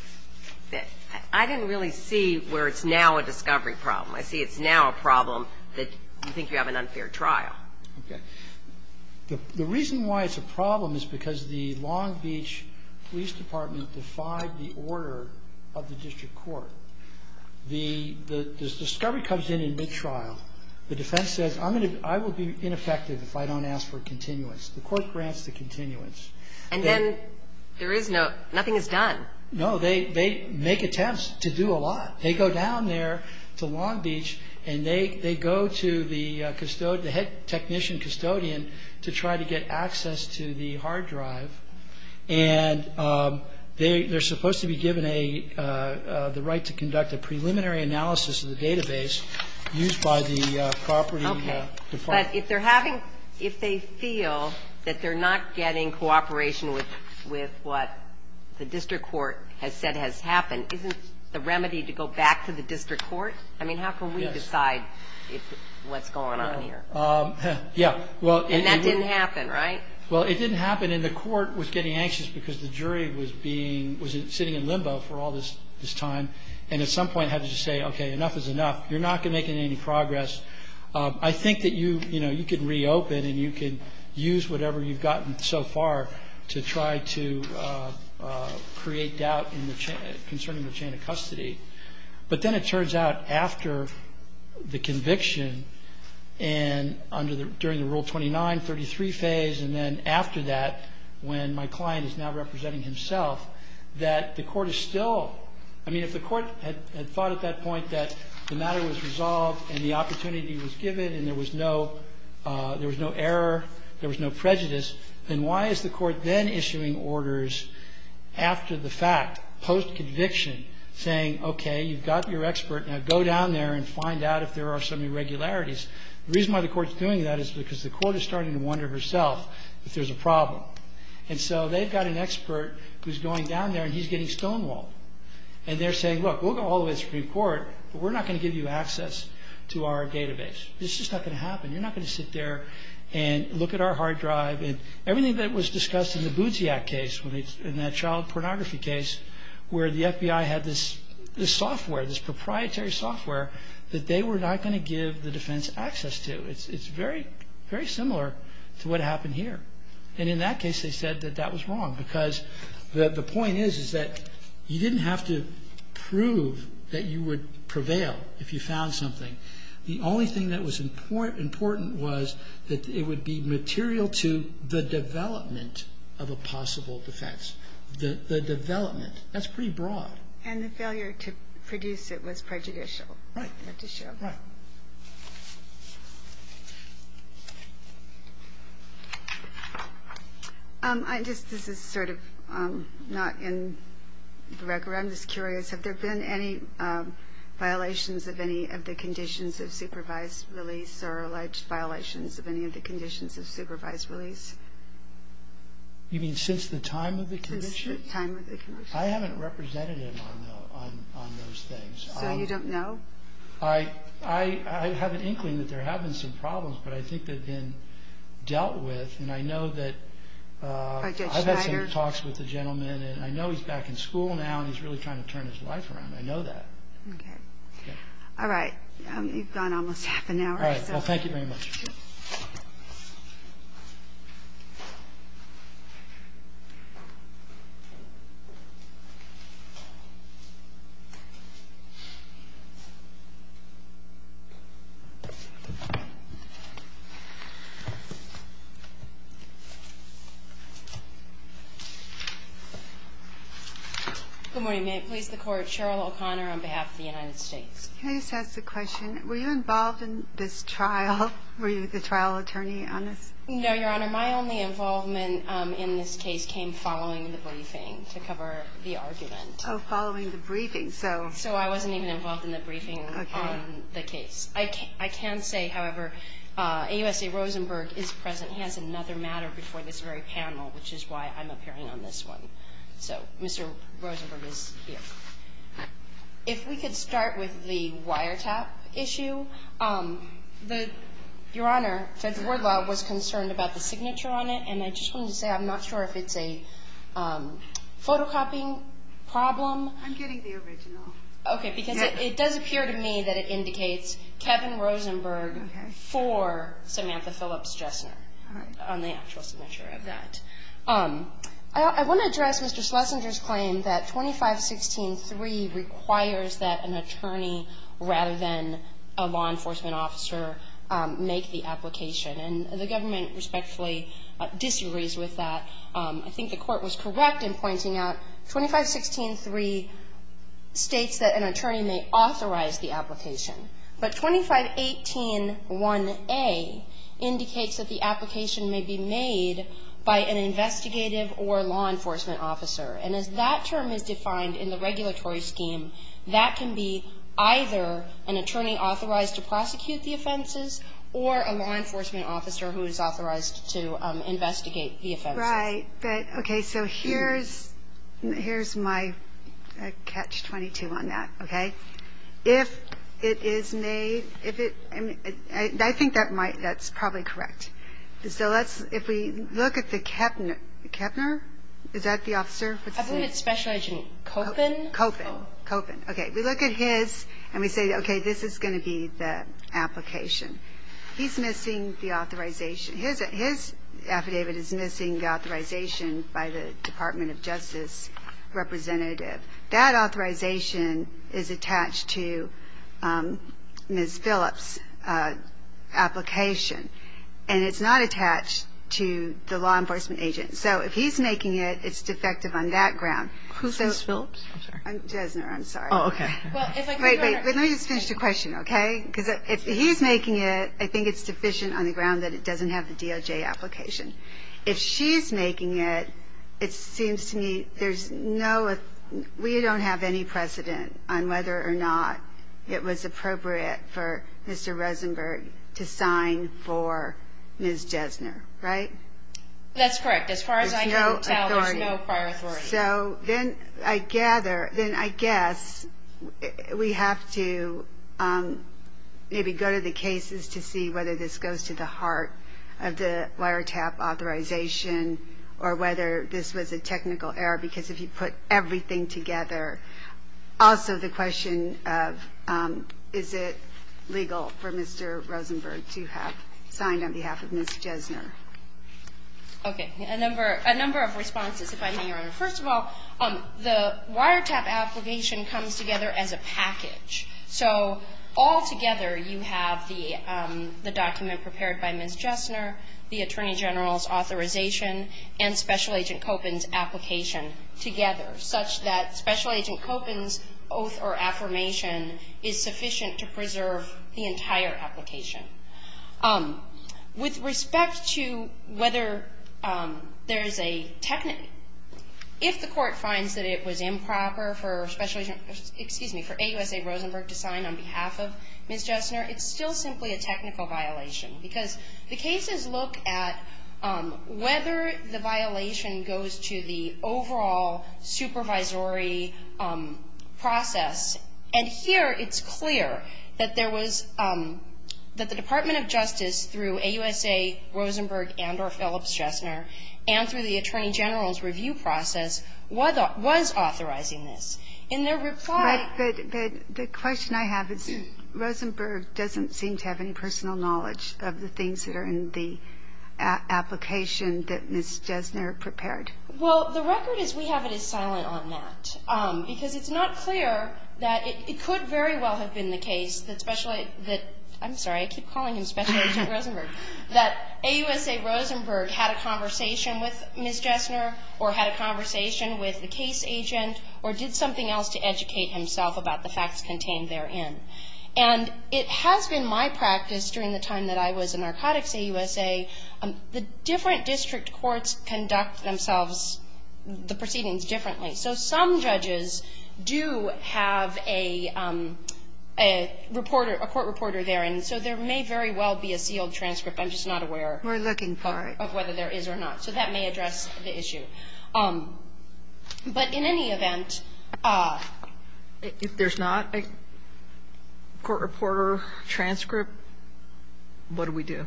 I didn't really see where it's now a discovery problem. I see it's now a problem that you think you have an unfair trial. Okay. The reason why it's a problem is because the Long Beach Police Department defied the order of the district court. The discovery comes in mid-trial. The defense says, I will be ineffective if I don't ask for a continuance. The court grants the continuance. And then there is no – nothing is done. No, they make attempts to do a lot. They go down there to Long Beach, and they go to the head technician custodian to try to get access to the hard drive. And they're supposed to be given the right to conduct a preliminary analysis of the database used by the property department. Okay. But if they're having – if they feel that they're not getting cooperation with what the district court has said has happened, isn't the remedy to go back to the district court? I mean, how can we decide what's going on here? Yeah. And that didn't happen, right? Well, it didn't happen, and the court was getting anxious because the jury was being – was sitting in limbo for all this time and at some point had to just say, okay, enough is enough. You're not going to make any progress. I think that you, you know, you could reopen, and you could use whatever you've gotten so far to try to create doubt concerning the chain of custody. But then it turns out after the conviction and under the – during the Rule 2933 phase and then after that, when my client is now representing himself, that the court is still – I mean, if the court had thought at that point that the matter was resolved and the opportunity was given and there was no – there was no error, there was no prejudice, then why is the court then issuing orders after the fact, post-conviction, saying, okay, you've got your expert. Now, go down there and find out if there are some irregularities. The reason why the court's doing that is because the court is starting to wonder herself if there's a problem. And so they've got an expert who's going down there, and he's getting stonewalled. And they're saying, look, we'll get all this report, but we're not going to give you access to our database. This is not going to happen. You're not going to sit there and look at our hard drive. And everything that was discussed in the Buziak case, in that child pornography case, where the FBI had this software, this proprietary software, that they were not going to give the defense access to. It's very, very similar to what happened here. And in that case, they said that that was wrong because the point is, is that you didn't have to prove that you would prevail if you found something. The only thing that was important was that it would be material to the development of a possible defense. The development. That's pretty broad. And the failure to produce it was prejudicial. Right. Okay. This is sort of not in the record. I'm just curious. Have there been any violations of any of the conditions of supervised release or alleged violations of any of the conditions of supervised release? You mean since the time of the commission? Since the time of the commission. I haven't represented it on those things. So you don't know? I have an inkling that there have been some problems, but I think they've been dealt with. And I know that I've had some talks with the gentleman, and I know he's back in school now and he's really trying to turn his life around. I know that. Okay. All right. You've gone almost half an hour. All right. Well, thank you very much. Thank you. Good morning. May it please the Court. Cheryl O'Connor on behalf of the United States. Okay. So that's the question. Were you involved in this trial? Were you the trial attorney on this? No, Your Honor. My only involvement in this case came following the briefing to cover the argument. Oh, following the briefing. So I wasn't even involved in the briefing on the case. I can say, however, AUSA Rosenberg is present. He has another matter before this very panel, which is why I'm appearing on this one. So Mr. Rosenberg is here. If we could start with the wiretap issue. Your Honor, Judge Woodwell was concerned about the signature on it, and I just want to say I'm not sure if it's a photocopying problem. I'm getting the original. Okay. Because it does appear to me that it indicates Kevin Rosenberg for Samantha Phillips Jessima. All right. On the actual signature of that. I want to address Mr. Schlesinger's claim that 2516.3 requires that an attorney, rather than a law enforcement officer, make the application. And the government respectfully disagrees with that. I think the court was correct in pointing out 2516.3 states that an attorney may authorize the application. But 2518.1a indicates that the application may be made by an investigative or law enforcement officer. And as that term is defined in the regulatory scheme, that can be either an attorney authorized to prosecute the offenses or a law enforcement officer who is authorized to investigate the offenses. Right. Okay. So here's my catch-22 on that. Okay. If it is made, if it's, I think that's probably correct. So let's, if we look at the Kepner, is that the officer? I believe it's Special Agent Koppen. Koppen. Koppen. Okay. We look at his and we say, okay, this is going to be the application. He's missing the authorization. His affidavit is missing the authorization by the Department of Justice representative. That authorization is attached to Ms. Phillips' application. And it's not attached to the law enforcement agent. So if he's making it, it's defective on that ground. Who's Ms. Phillips? I'm sorry. Desner, I'm sorry. Oh, okay. But let me finish the question, okay? Because if he's making it, I think it's sufficient on the ground that it doesn't have the DOJ application. If she's making it, it seems to me there's no, we don't have any precedent on whether or not it was appropriate for Mr. Rosenberg to sign for Ms. Desner, right? That's correct. As far as I can tell, there's no prior authority. So then I gather, then I guess we have to maybe go to the cases to see whether this goes to the heart of the wiretap authorization or whether this was a technical error. Because if you put everything together, also the question of is it legal for Mr. Rosenberg to have signed on behalf of Ms. Desner? Okay. A number of responses, if I may, Your Honor. First of all, the wiretap application comes together as a package. So altogether you have the document prepared by Ms. Desner, the Attorney General's authorization, and Special Agent Kopin's application together such that Special Agent Kopin's oath or affirmation is sufficient to preserve the entire application. With respect to whether there is a technical, if the court finds that it was improper for Special Agent, excuse me, for AUSA Rosenberg to sign on behalf of Ms. Desner, it's still simply a technical violation. Because the cases look at whether the violation goes to the overall supervisory process. And here it's clear that there was, that the Department of Justice through AUSA Rosenberg and or Phillips-Desner and through the Attorney General's review process was authorizing this. In their reply- But the question I have is Rosenberg doesn't seem to have any personal knowledge of the things that are in the application that Ms. Desner prepared. Well, the record is we have it as silent on that. Because it's not clear that it could very well have been the case that Special Agent, I'm sorry, I keep calling him Special Agent Rosenberg, that AUSA Rosenberg had a conversation with Ms. Desner or had a conversation with the case agent or did something else to educate himself about the facts contained therein. And it has been my practice during the time that I was in Narcotics AUSA, the different district courts conduct themselves, the proceedings differently. So some judges do have a reporter, a court reporter there. And so there may very well be a sealed transcript. I'm just not aware- We're looking for it. Of whether there is or not. So that may address the issue. But in any event- If there's not a court reporter transcript, what do we do?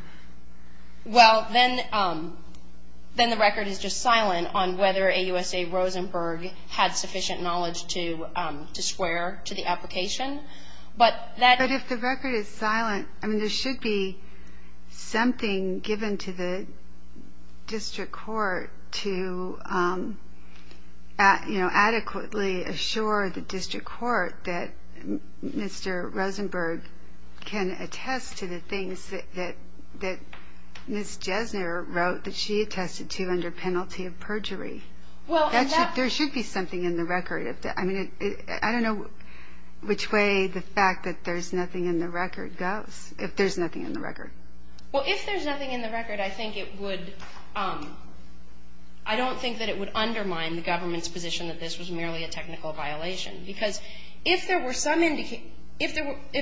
Well, then the record is just silent on whether AUSA Rosenberg had sufficient knowledge to swear to the application. But that- But if the record is silent, there should be something given to the district court to adequately assure the district court that Mr. Rosenberg can attest to the things that Ms. Desner wrote that she attested to under penalty of perjury. There should be something in the record. I don't know which way the fact that there's nothing in the record goes, if there's nothing in the record. Well, if there's nothing in the record, I think it would- I don't think that it would undermine the government's position that this was merely a technical violation. Because if there were some indication- If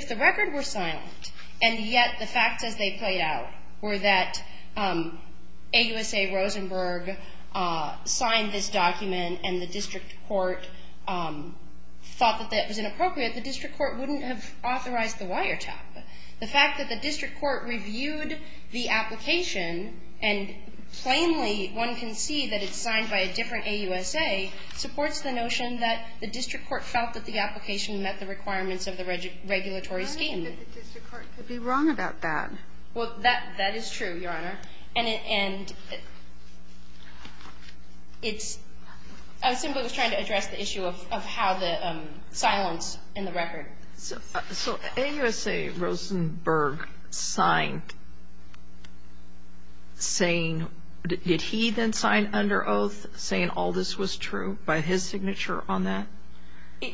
the record were silent, and yet the fact that they played out were that AUSA Rosenberg signed this document and the district court thought that that was inappropriate, the district court wouldn't have authorized the wiretap. The fact that the district court reviewed the application, and plainly one can see that it's signed by a different AUSA, supports the notion that the district court felt that the application met the requirements of the regulatory scheme. I don't think the district court could be wrong about that. Well, that is true, Your Honor. And it's- I think it was trying to address the issue of how the silence in the record. So, AUSA Rosenberg signed, saying- did he then sign under oath, saying all this was true by his signature on that?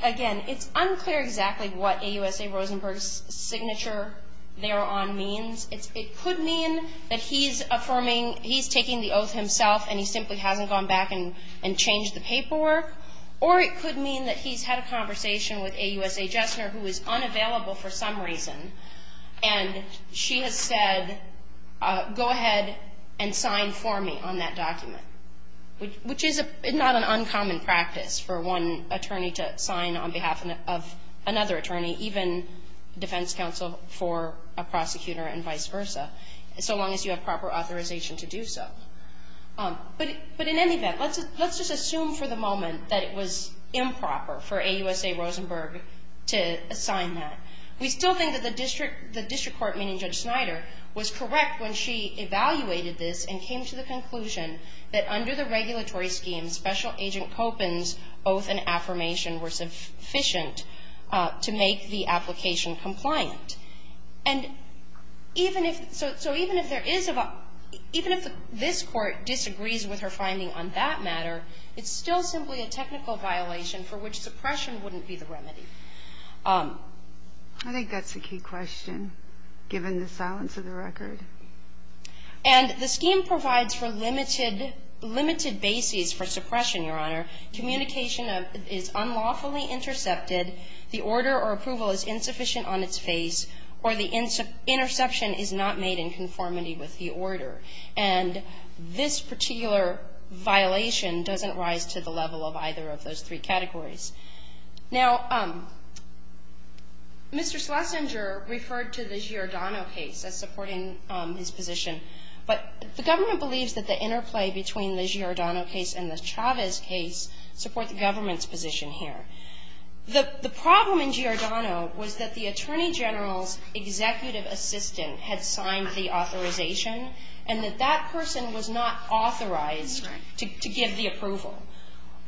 Again, it's unclear exactly what AUSA Rosenberg's signature thereon means. It could mean that he's affirming- he's taking the oath himself, and he simply hasn't gone back and changed the paperwork. Or it could mean that he's had a conversation with AUSA Jessner, who is unavailable for some reason, and she has said, go ahead and sign for me on that document, which is not an uncommon practice for one attorney to sign on behalf of another attorney, even defense counsel for a prosecutor and vice versa, so long as you have proper authorization to do so. But in any event, let's just assume for the moment that it was improper for AUSA Rosenberg to sign that. We still think that the district court, meaning Judge Snyder, was correct when she evaluated this and came to the conclusion that under the regulatory scheme, Special Agent Kopins' oath and affirmation were sufficient to make the application compliant. And even if this court disagrees with her finding on that matter, it's still simply a technical violation for which suppression wouldn't be the remedy. I think that's a key question, given the silence of the record. And the scheme provides for limited bases for suppression, Your Honor. Communication is unlawfully intercepted. The order or approval is insufficient on its face, or the interception is not made in conformity with the order. And this particular violation doesn't rise to the level of either of those three categories. Now, Mr. Schlesinger referred to the Giordano case as supporting his position, but the government believes that the interplay between the Giordano case and the Chavez case supports the government's position here. The problem in Giordano was that the Attorney General's executive assistant had signed the authorization and that that person was not authorized to give the approval.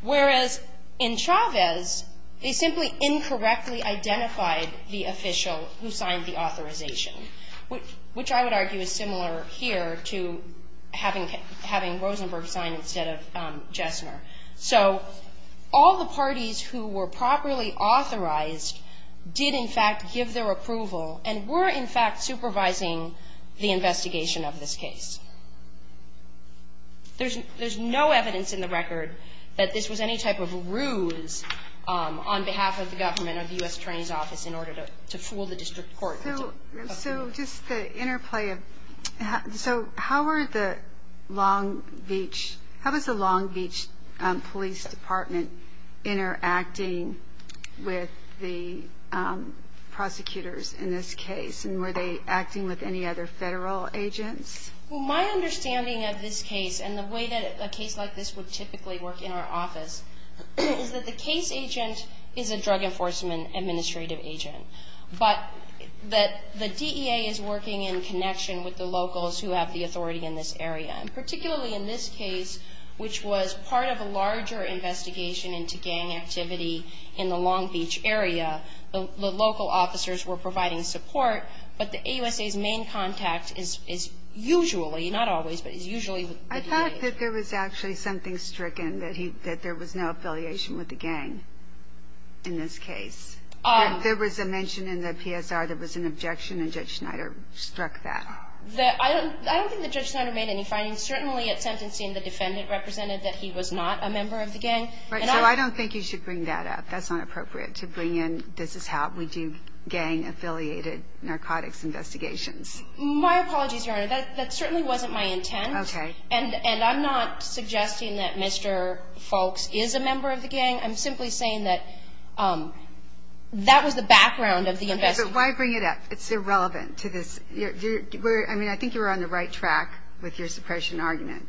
Whereas in Chavez, they simply incorrectly identified the official who signed the authorization, which I would argue is similar here to having Rosenberg sign instead of Jessner. So all the parties who were properly authorized did, in fact, give their approval and were, in fact, supervising the investigation of this case. There's no evidence in the record that this was any type of ruse on behalf of the government or the U.S. Attorney's Office in order to fool the district court. So just to interplay, so how are the Long Beach, how is the Long Beach Police Department interacting with the prosecutors in this case? And were they acting with any other federal agents? Well, my understanding of this case and the way that a case like this would typically work in our office is that the case agent is a drug enforcement administrative agent. But the DEA is working in connection with the locals who have the authority in this area, particularly in this case, which was part of a larger investigation into gang activity in the Long Beach area. The local officers were providing support, but the AUSA's main contact is usually, not always, but usually. I thought that there was actually something stricken, that there was no affiliation with the gang in this case. There was a mention in the PSR that there was an objection, and Judge Schneider struck that. I don't think that Judge Schneider made any findings. Certainly, at sentencing, the defendant represented that he was not a member of the gang. So I don't think you should bring that up. That's not appropriate to bring in, this is how we do gang-affiliated narcotics investigations. My apologies, Your Honor. That certainly wasn't my intent. Okay. And I'm not suggesting that Mr. Foulkes is a member of the gang. I'm simply saying that that was the background of the investigation. Okay, but why bring it up? It's irrelevant to this. I mean, I think you're on the right track with your suppression argument.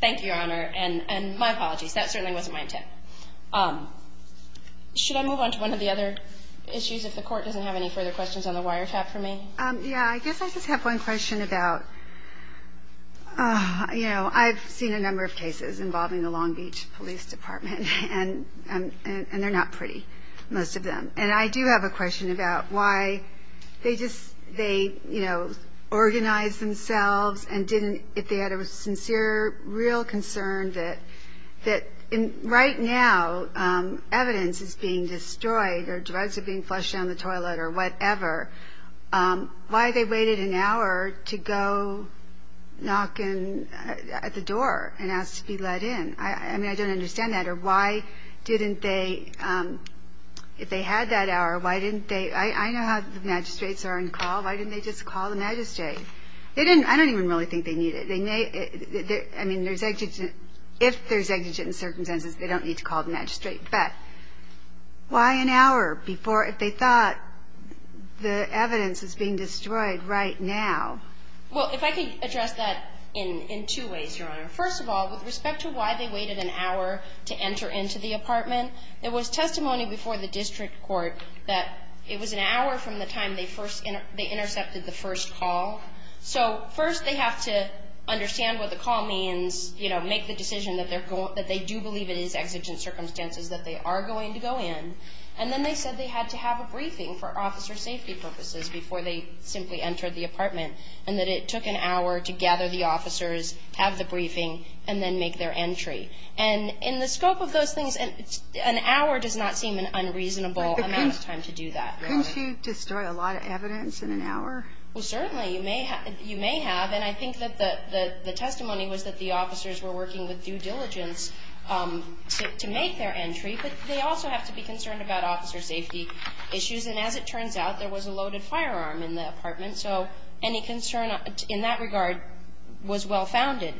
Thank you, Your Honor, and my apologies. That certainly wasn't my intent. Should I move on to one of the other issues, if the Court doesn't have any further questions on the wiretap for me? Yeah, I guess I just have one question about, you know, I've seen a number of cases involving the Long Beach Police Department, and they're not pretty, most of them. And I do have a question about why they just, they, you know, organized themselves and didn't, if they had a sincere, real concern that right now evidence is being destroyed or drugs are being flushed down the toilet or whatever, why they waited an hour to go knock at the door and ask to be let in. I mean, I don't understand that. Or why didn't they, if they had that hour, why didn't they, I know how magistrates are on call. Why didn't they just call the magistrate? They didn't, I don't even really think they needed it. They may, I mean, there's exigent, if there's exigent circumstances, they don't need to call the magistrate. But why an hour before, if they thought the evidence is being destroyed right now? Well, if I could address that in two ways, Your Honor. First of all, with respect to why they waited an hour to enter into the apartment, there was testimony before the district court that it was an hour from the time they first, they intercepted the first call. So, first they have to understand what the call means, you know, make the decision that they do believe it is exigent circumstances that they are going to go in. And then they said they had to have a briefing for officer safety purposes before they simply entered the apartment, and that it took an hour to gather the officers, have the briefing, and then make their entry. And in the scope of those things, an hour does not seem an unreasonable amount of time to do that. Couldn't you destroy a lot of evidence in an hour? Well, certainly, you may have. And I think that the testimony was that the officers were working with due diligence to make their entry. But they also have to be concerned about officer safety issues. And as it turns out, there was a loaded firearm in the apartment. So, any concern in that regard was well-founded.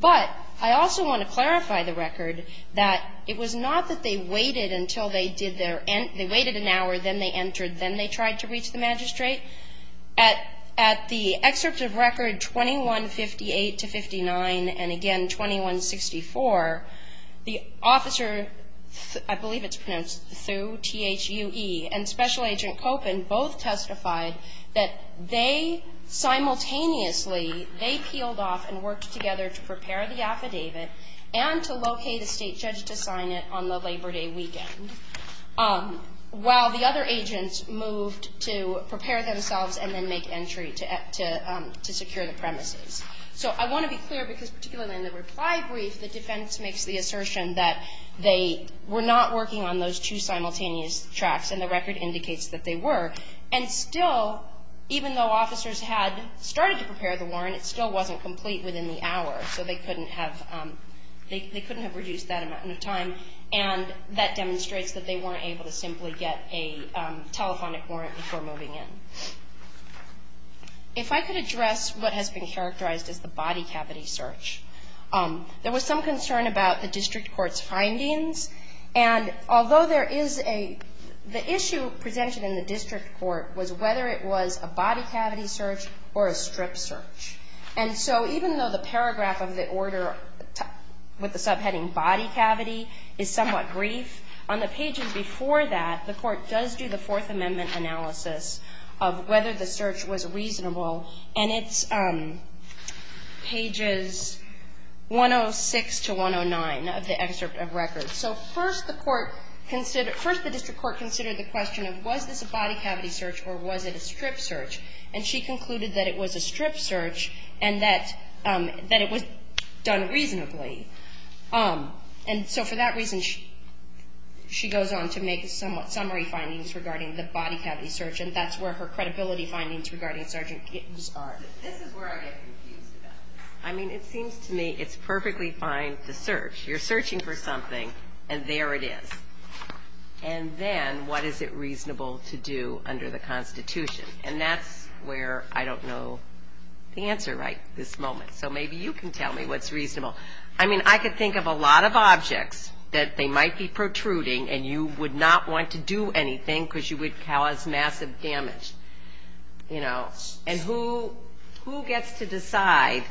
But I also want to clarify the record that it was not that they waited until they did their, they waited an hour, then they entered, then they tried to reach the magistrate. At the excerpts of record 2158 to 59, and again 2164, the officer, I believe it's pronounced Sue, T-H-U-E, and Special Agent Copin both testified that they simultaneously, they peeled off and worked together to prepare the affidavit and to locate a state judge to sign it on the Labor Day weekend, while the other agents moved to prepare themselves and then make entry to secure the premises. So, I want to be clear, because particularly in the reply brief, the defense makes the assertion that they were not working on those two simultaneous tracks. And the record indicates that they were. And still, even though officers had started to prepare the warrant, it still wasn't complete within the hour. So, they couldn't have, they couldn't have reduced that amount of time. And that demonstrates that they weren't able to simply get a telephonic warrant before moving in. If I could address what has been characterized as the body cavity search, there was some concern about the district court's findings. And although there is a, the issue presented in the district court was whether it was a body cavity search or a strip search. And so, even though the paragraph of the order with the subheading body cavity is somewhat brief, on the pages before that, the court does do the Fourth Amendment analysis of whether the search was reasonable. And it's pages 106 to 109 of the excerpt of records. So, first the court considered, first the district court considered the question of, was this a body cavity search or was it a strip search? And she concluded that it was a strip search and that, that it was done reasonably. And so, for that reason, she goes on to make some summary findings regarding the body cavity search. And that's where her credibility findings regarding search get disbarred. This is where I get confused about it. I mean, it seems to me it's perfectly fine to search. You're searching for something and there it is. And then, what is it reasonable to do under the Constitution? And that's where I don't know the answer right this moment. So, maybe you can tell me what's reasonable. I mean, I could think of a lot of objects that they might be protruding and you would not want to do anything because you would cause massive damage, you know. And who gets to decide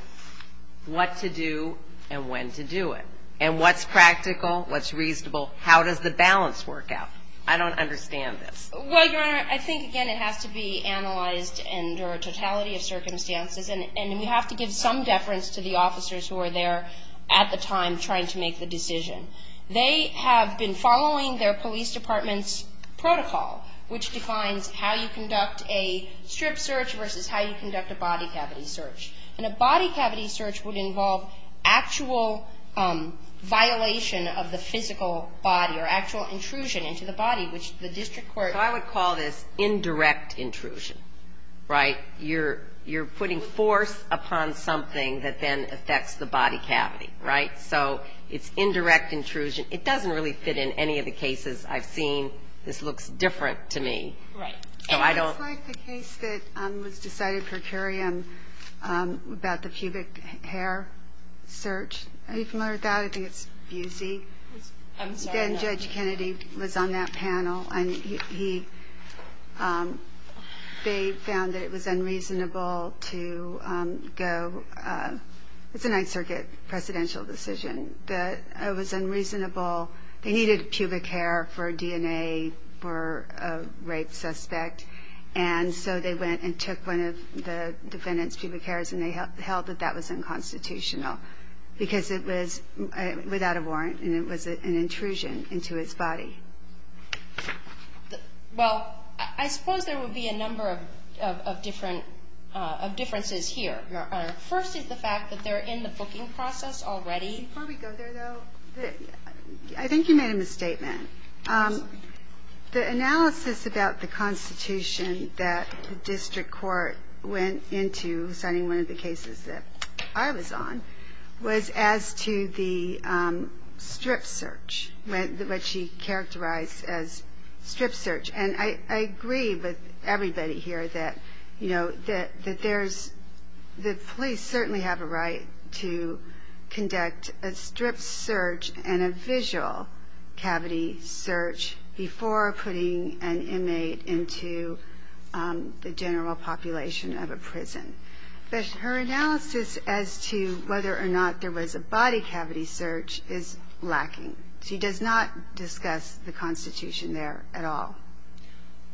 what to do and when to do it? And what's practical? What's reasonable? How does the balance work out? I don't understand this. Well, Your Honor, I think, again, it has to be analyzed under a totality of circumstances. And you have to give some deference to the officers who are there at the time trying to make the decision. They have been following their police department's protocol, which defines how you conduct a strip search versus how you conduct a body cavity search. And a body cavity search would involve actual violation of the physical body or actual intrusion into the body, which the district court, I would call this indirect intrusion, right? You're putting force upon something that then affects the body cavity, right? So, it's indirect intrusion. It doesn't really fit in any of the cases I've seen. This looks different to me. I like the case that was decided for Curiam about the pubic hair search. It's more valid because it's easy. Then Judge Kennedy was on that panel, and he found that it was unreasonable to go. It's a Ninth Circuit presidential decision, but it was unreasonable. They needed pubic hair for DNA for a rape suspect, and so they went and took one of the defendant's pubic hairs, and they held that that was unconstitutional because it was without a warrant, and it was an intrusion into his body. Well, I suppose there would be a number of differences here. First is the fact that they're in the booking process already. Before we go there, though, I think you made a misstatement. The analysis about the Constitution that the district court went into citing one of the cases that I was on was as to the strip search, which he characterized as strip search, and I agree with everybody here that police certainly have a right to conduct a strip search and a visual cavity search before putting an inmate into the general population of a prison. But her analysis as to whether or not there was a body cavity search is lacking. She does not discuss the Constitution there at all.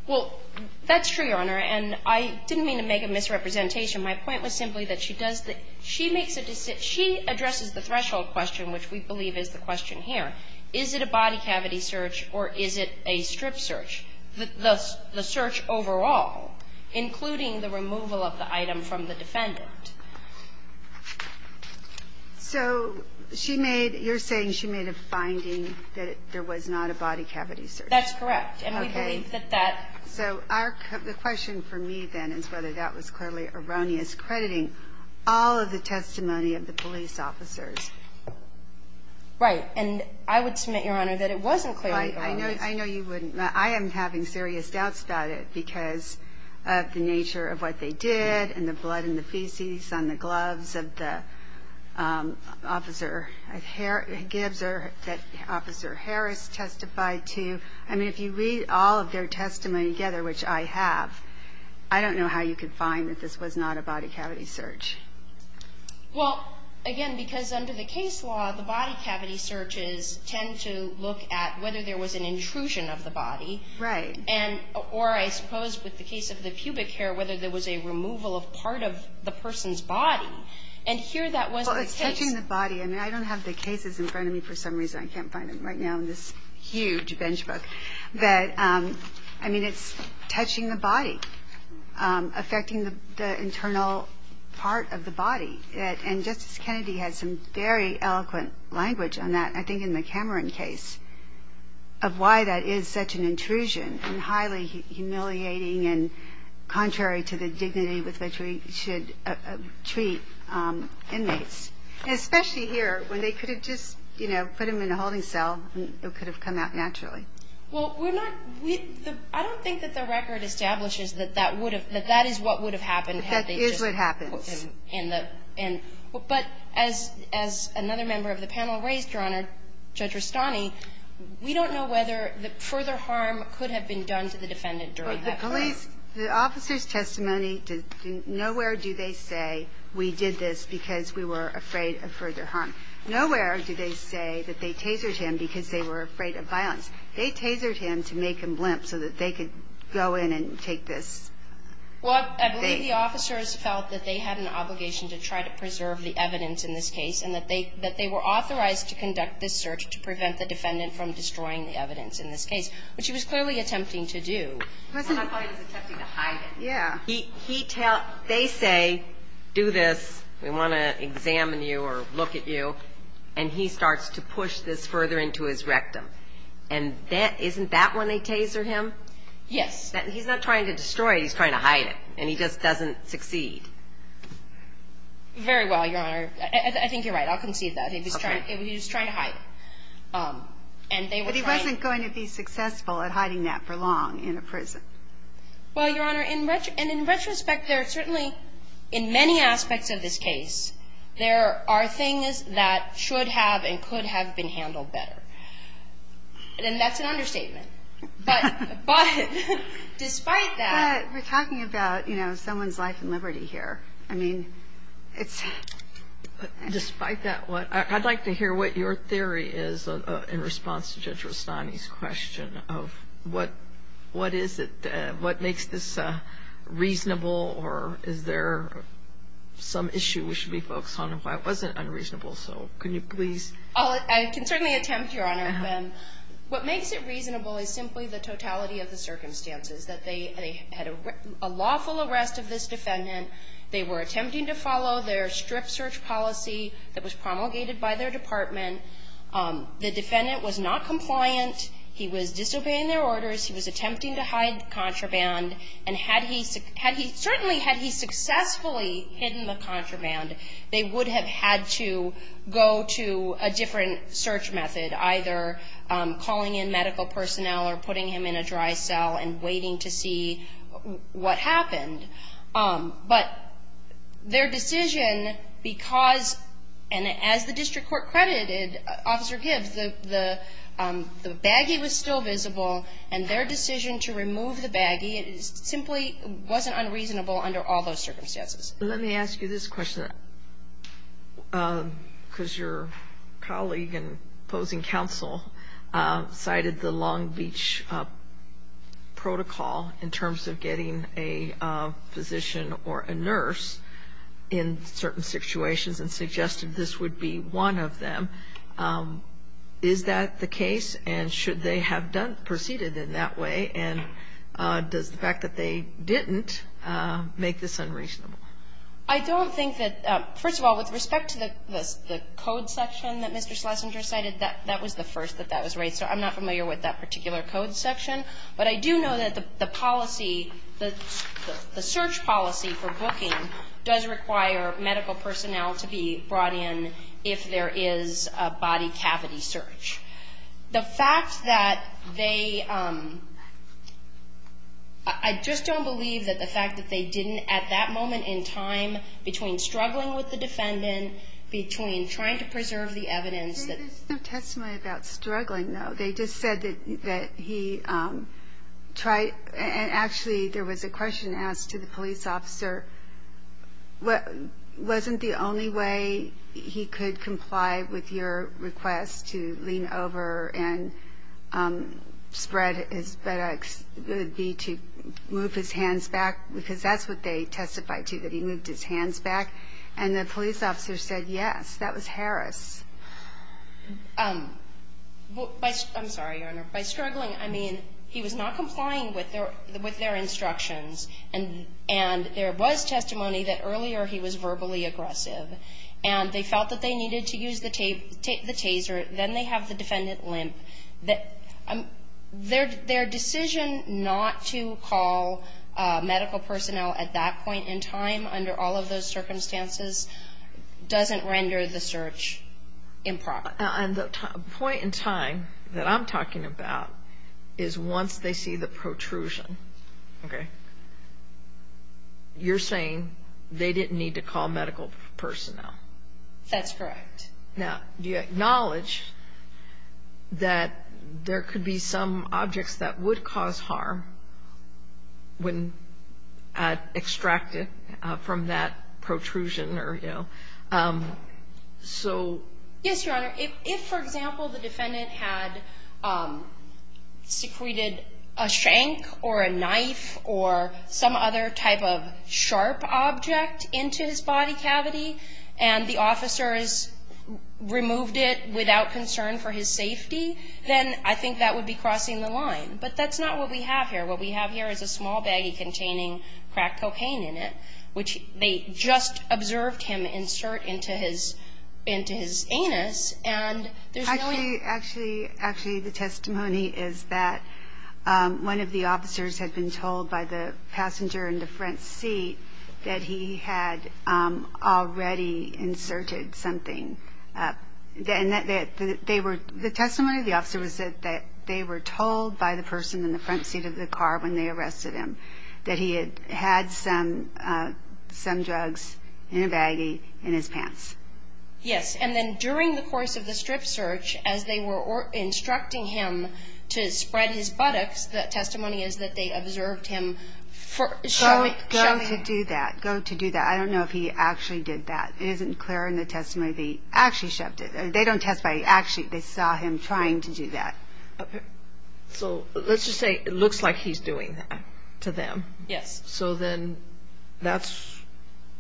Well, that's true, Your Honor, and I didn't mean to make a misrepresentation. My point was simply that she does the – she makes a – she addresses the threshold question, which we believe is the question here. Is it a body cavity search or is it a strip search, the search overall, including the removal of the item from the defendant? So she made – you're saying she made a finding that there was not a body cavity search. That's correct. Okay. And we believe that that – So our – the question for me, then, is whether that was clearly erroneous, crediting all of the testimony of the police officers. Right, and I would submit, Your Honor, that it wasn't clearly erroneous. I know you wouldn't – I am having serious doubts about it because of the nature of what they did and the blood and the feces on the gloves that the officer at Harris – that Officer Harris testified to. I mean, if you read all of their testimony together, which I have, I don't know how you could find that this was not a body cavity search. Well, again, because under the case law, the body cavity searches tend to look at whether there was an intrusion of the body. Right. And – or I suppose with the case of the pubic hair, whether there was a removal of part of the person's body. And here that wasn't – Well, it's touching the body. I mean, I don't have the cases in front of me for some reason. I can't find them right now in this huge bench book. But, I mean, it's touching the body, affecting the internal part of the body. And Justice Kennedy had some very eloquent language on that, I think, in the Cameron case, of why that is such an intrusion and highly humiliating and contrary to the dignity with which we should treat inmates. And especially here when they could have just, you know, put them in a holding cell and it could have come out naturally. Well, we're not – I don't think that the record establishes that that would have – that that is what would have happened had they just – That is what happened. But as another member of the panel raised, Your Honor, Judge Rustani, we don't know whether further harm could have been done to the defendant during that time. The police – the officer's testimony – nowhere do they say, we did this because we were afraid of further harm. Nowhere do they say that they tasered him because they were afraid of violence. They tasered him to make him limp so that they could go in and take this. Well, I believe the officers felt that they had an obligation to try to preserve the evidence in this case and that they were authorized to conduct this search to prevent the defendant from destroying the evidence in this case, which he was clearly attempting to do. I thought he was attempting to hide it. Yeah. They say, do this, we want to examine you or look at you, and he starts to push this further into his rectum. And isn't that when they taser him? Yes. He's not trying to destroy it. He's trying to hide it, and he just doesn't succeed. Very well, Your Honor. I think you're right. I'll concede that. He was trying to hide it. But he wasn't going to be successful at hiding that for long in a prison. Well, Your Honor, and in retrospect, there are certainly – in many aspects of this case, there are things that should have and could have been handled better. And that's an understatement. But despite that – But we're talking about, you know, someone's life and liberty here. I mean, it's – Despite that, I'd like to hear what your theory is in response to Judge Rossani's question of what is it, what makes this reasonable, or is there some issue we should be focused on and why it wasn't unreasonable. So can you please – I can certainly attempt, Your Honor. What makes it reasonable is simply the totality of the circumstances, that they had a lawful arrest of this defendant. They were attempting to follow their strict search policy that was promulgated by their department. The defendant was not compliant. He was disobeying their orders. He was attempting to hide contraband. And had he – certainly had he successfully hidden the contraband, they would have had to go to a different search method, either calling in medical personnel or putting him in a dry cell and waiting to see what happened. But their decision, because – And as the district court credited Officer Gibbs, the baggie was still visible, and their decision to remove the baggie simply wasn't unreasonable under all those circumstances. Let me ask you this question, because your colleague in opposing counsel cited the Long Beach protocol in terms of getting a physician or a nurse in certain situations and suggested this would be one of them. Is that the case? And should they have proceeded in that way? And does the fact that they didn't make this unreasonable? I don't think that – First of all, with respect to the code section that Mr. Schlesinger cited, that was the first that that was right. So I'm not familiar with that particular code section. But I do know that the policy – the search policy for booking does require medical personnel to be brought in if there is a body cavity search. The fact that they – I just don't believe that the fact that they didn't at that moment in time, between struggling with the defendant, between trying to preserve the evidence – There is a testament about struggling, though. They just said that he tried – And actually, there was a question asked to the police officer. Wasn't the only way he could comply with your request to lean over and spread his – move his hands back? Because that's what they testified to, that he moved his hands back. And the police officer said yes. That was Harris. I'm sorry, Your Honor. By struggling, I mean he was not complying with their instructions. And there was testimony that earlier he was verbally aggressive. And they felt that they needed to use the taser. Then they have the defendant limp. Their decision not to call medical personnel at that point in time, under all of those circumstances, doesn't render the search improper. The point in time that I'm talking about is once they see the protrusion. Okay. You're saying they didn't need to call medical personnel. That's correct. Now, do you acknowledge that there could be some objects that would cause harm when extracted from that protrusion? Yes, Your Honor. If, for example, the defendant had secreted a shank or a knife or some other type of sharp object into his body cavity and the officers removed it without concern for his safety, then I think that would be crossing the line. But that's not what we have here. What we have here is a small baggie containing crack cocaine in it, which they just observed him insert into his anus. Actually, the testimony is that one of the officers had been told by the passenger in the front seat that he had already inserted something. The testimony of the officer was that they were told by the person in the front seat of the car when they arrested him that he had had some drugs in a baggie in his pants. Yes, and then during the course of the strip search, as they were instructing him to spread his buttocks, the testimony is that they observed him. Go to do that. Go to do that. I don't know if he actually did that. It isn't clear in the testimony that he actually shoved it. They don't testify that they actually saw him trying to do that. So let's just say it looks like he's doing that to them. Yes. So then that's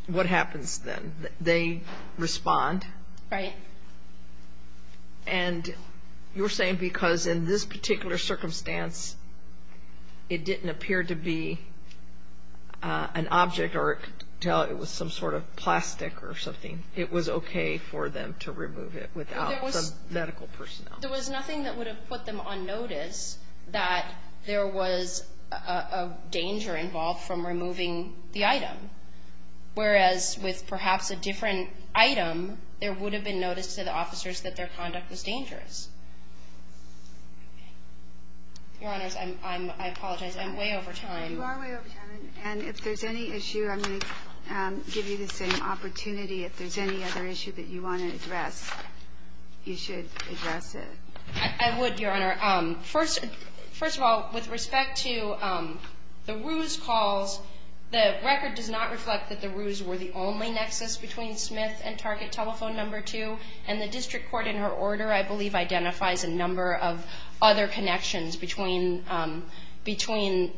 what happens to them. They respond. Right. And you're saying because in this particular circumstance, it didn't appear to be an object or it was some sort of plastic or something. It was okay for them to remove it without the medical personnel. There was nothing that would have put them on notice that there was a danger involved from removing the item, whereas with perhaps a different item, there would have been notice to the officers that their conduct was dangerous. Your Honor, I apologize. I'm way over time. You are way over time. And if there's any issue, I'm going to give you the same opportunity. If there's any other issue that you want to address, you should address it. I would, Your Honor. First of all, with respect to the ruse calls, the record does not reflect that the ruse were the only nexus between Smith and Target Telephone Number 2. And the district court in her order, I believe, identifies a number of other connections between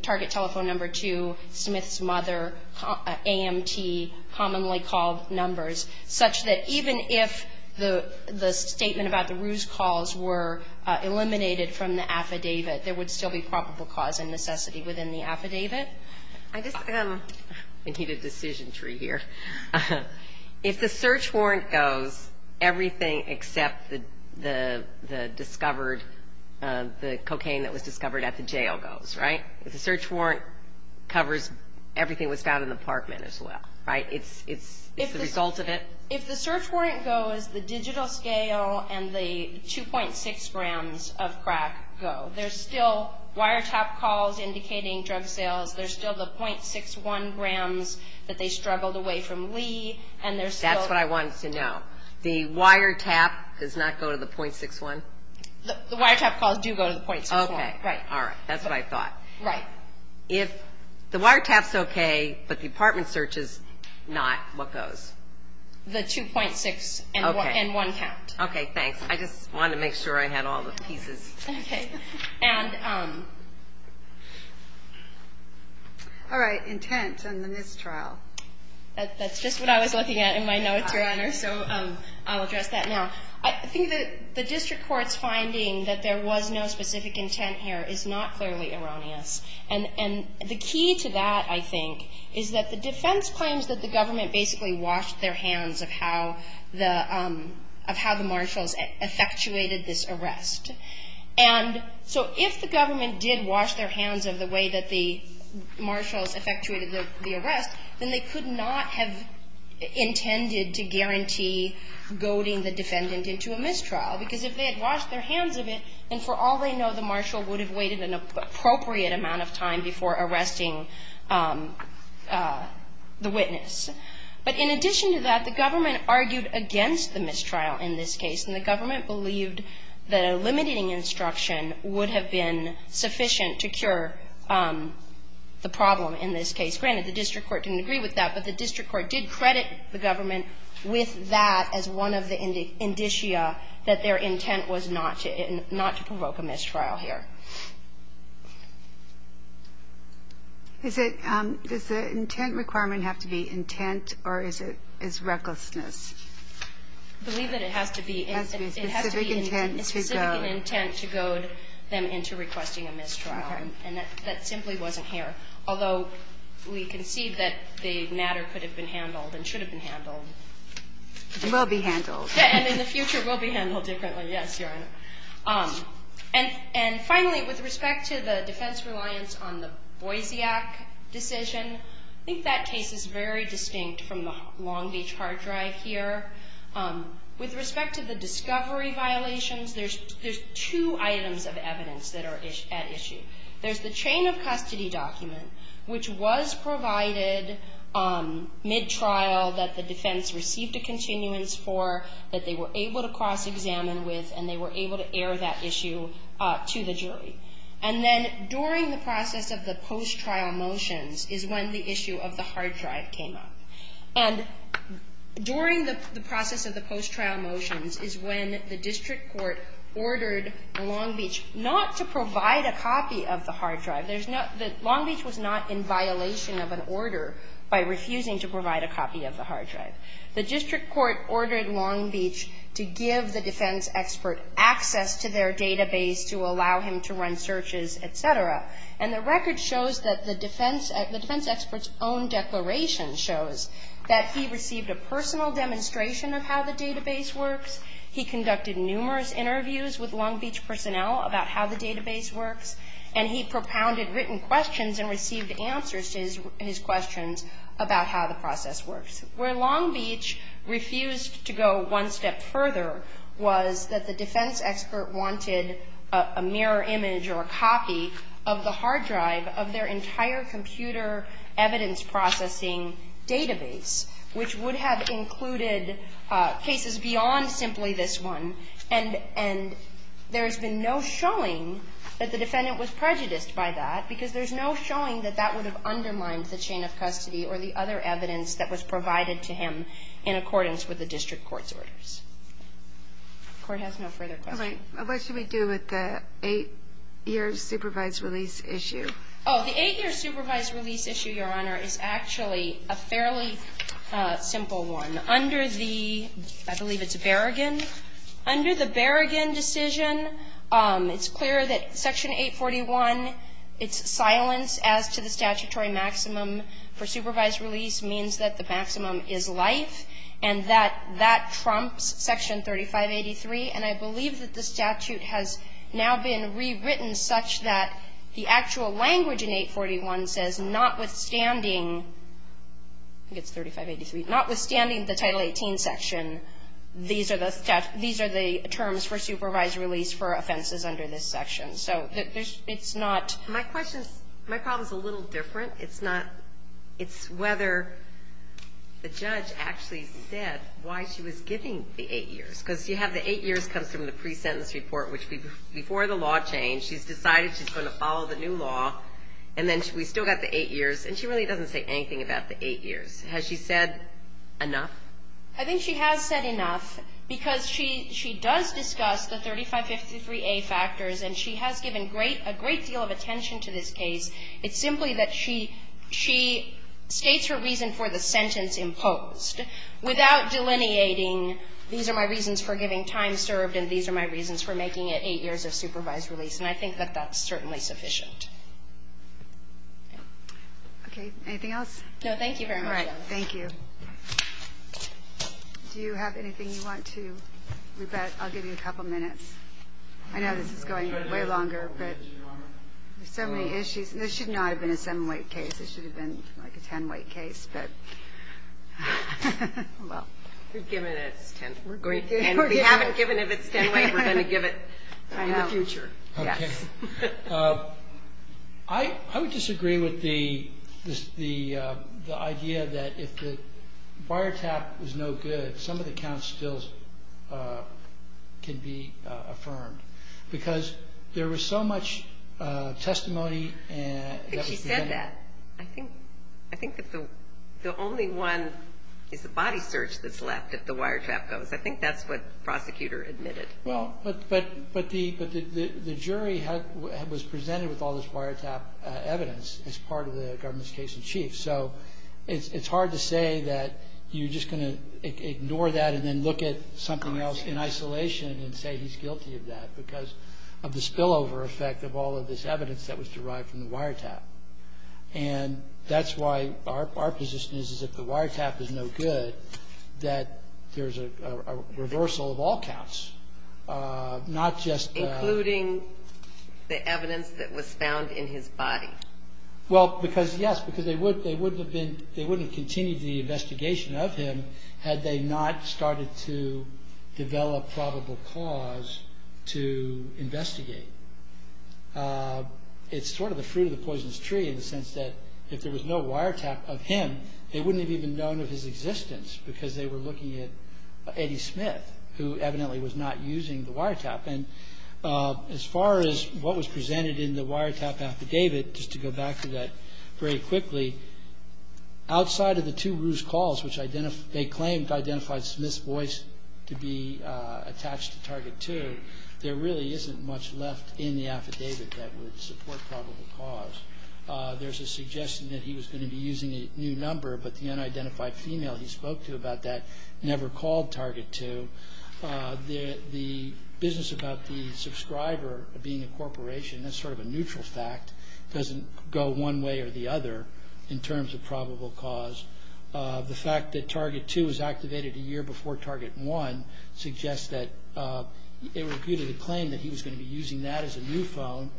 Target Telephone Number 2, Smith's mother, AMT, commonly called numbers, such that even if the statement about the ruse calls were eliminated from the affidavit, there would still be probable cause and necessity within the affidavit. If the search warrant goes, everything except the cocaine that was discovered at the jail goes, right? If the search warrant covers everything without an apartment as well, right? It's the result of it. If the search warrant goes, the digital scale and the 2.6 grams of crack go. There's still wiretap calls indicating drug sales. There's still the 0.61 grams that they struggled away from Lee. That's what I wanted to know. The wiretap does not go to the 0.61? The wiretap calls do go to the 0.61. Okay. All right. That's what I thought. Right. If the wiretap's okay, but the apartment search is not, what goes? The 2.6 and one count. Okay. Thanks. I just wanted to make sure I had all the pieces. Okay. All right. Intent and the mistrial. That's just what I was looking at in my notes, so I'll address that now. I think that the district court's finding that there was no specific intent here is not clearly erroneous. And the key to that, I think, is that the defense claims that the government basically washed their hands of how the marshals effectuated this arrest. And so if the government did wash their hands of the way that the marshals effectuated the arrest, then they could not have intended to guarantee goading the defendant into a mistrial. Because if they had washed their hands of it, And for all we know, the marshal would have waited an appropriate amount of time before arresting the witness. But in addition to that, the government argued against the mistrial in this case, and the government believed that a limiting instruction would have been sufficient to cure the problem in this case. Granted, the district court didn't agree with that, but the district court did credit the government with that as one of the indicia that their intent was not to provoke a mistrial here. Does the intent requirement have to be intent, or is it recklessness? I believe that it has to be a specific intent to goad them into requesting a mistrial, and that simply wasn't here. Although we can see that the matter could have been handled and should have been handled. It will be handled. Yeah, and in the future it will be handled differently, yes. And finally, with respect to the defense reliance on the Boisiac decision, I think that case is very distinct from the Long Beach hard drive here. With respect to the discovery violations, there's two items of evidence that are at issue. There's the chain of custody document, which was provided mid-trial, that the defense received a continuance for, that they were able to cross-examine with, and they were able to air that issue to the jury. And then during the process of the post-trial motions is when the issue of the hard drive came up. And during the process of the post-trial motions is when the district court ordered the Long Beach not to provide a copy of the hard drive. Long Beach was not in violation of an order by refusing to provide a copy of the hard drive. The district court ordered Long Beach to give the defense expert access to their database to allow him to run searches, et cetera. And the record shows that the defense expert's own declaration shows that he received a personal demonstration of how the database works. He conducted numerous interviews with Long Beach personnel about how the database works, and he propounded written questions and received answers to his questions about how the process works. Where Long Beach refused to go one step further was that the defense expert wanted a mirror image or a copy of the hard drive of their entire computer evidence processing database, which would have included cases beyond simply this one. And there's been no showing that the defendant was prejudiced by that because there's no showing that that would have undermined the chain of custody or the other evidence that was provided to him in accordance with the district court's orders. The court has no further questions. All right. What should we do with the eight-year supervised release issue? Oh, the eight-year supervised release issue, Your Honor, is actually a fairly simple one. Under the – I believe it's Berrigan. Under the Berrigan decision, it's clear that Section 841, its silence as to the statutory maximum for supervised release means that the maximum is life, and that that trumps Section 3583. And I believe that the statute has now been rewritten such that the actual language in 841 says, notwithstanding – I think it's 3583 – notwithstanding the Title 18 section, these are the terms for supervised release for offenses under this section. So it's not – My question – my problem's a little different. It's not – it's whether the judge actually said why she was giving the eight years because you have the eight years come from the pre-sentence report, which before the law changed, she's decided she's going to follow the new law, and then we've still got the eight years, and she really doesn't say anything about the eight years. Has she said enough? I think she has said enough because she does discuss the 3553A factors, and she has given a great deal of attention to this case. It's simply that she states her reason for the sentence imposed without delineating these are my reasons for getting time served and these are my reasons for making it eight years of supervised release, and I think that that's certainly sufficient. Okay. Anything else? No, thank you very much. All right. Thank you. Do you have anything you want to rebut? I'll give you a couple minutes. I know this is going way longer, but there's so many issues. This should not have been a seven-week case. This should have been like a ten-week case. We've given it ten weeks. We haven't given it a ten-week. We're going to give it in the future. I would disagree with the idea that if the bar tap was no good, some of the counts still can be affirmed because there was so much testimony. She said that. I think the only one is the body search that's left if the wiretap goes. I think that's what the prosecutor admitted. Well, but the jury was presented with all this wiretap evidence as part of the government's case in chief, so it's hard to say that you're just going to ignore that and then look at something else in isolation and say he's guilty of that because of the spillover effect of all of this evidence that was derived from the wiretap. And that's why our position is that if the wiretap is no good, that there's a reversal of all counts, not just that. Including the evidence that was found in his body. Well, yes, because they wouldn't have continued the investigation of him had they not started to develop probable cause to investigate. It's sort of the fruit of the poison's tree in the sense that if there was no wiretap of him, they wouldn't have even known of his existence because they were looking at Eddie Smith, who evidently was not using the wiretap. And as far as what was presented in the wiretap affidavit, just to go back to that very quickly, outside of the two ruse calls which they claimed identified Smith's voice to be attached to Target 2, there really isn't much left in the affidavit that would support probable cause. There's a suggestion that he was going to be using a new number, but the unidentified female he spoke to about that never called Target 2. The business about the subscriber being a corporation, that's sort of a neutral fact, doesn't go one way or the other in terms of probable cause. The fact that Target 2 was activated a year before Target 1 suggests that they repeated a claim that he was going to be using that as a new phone.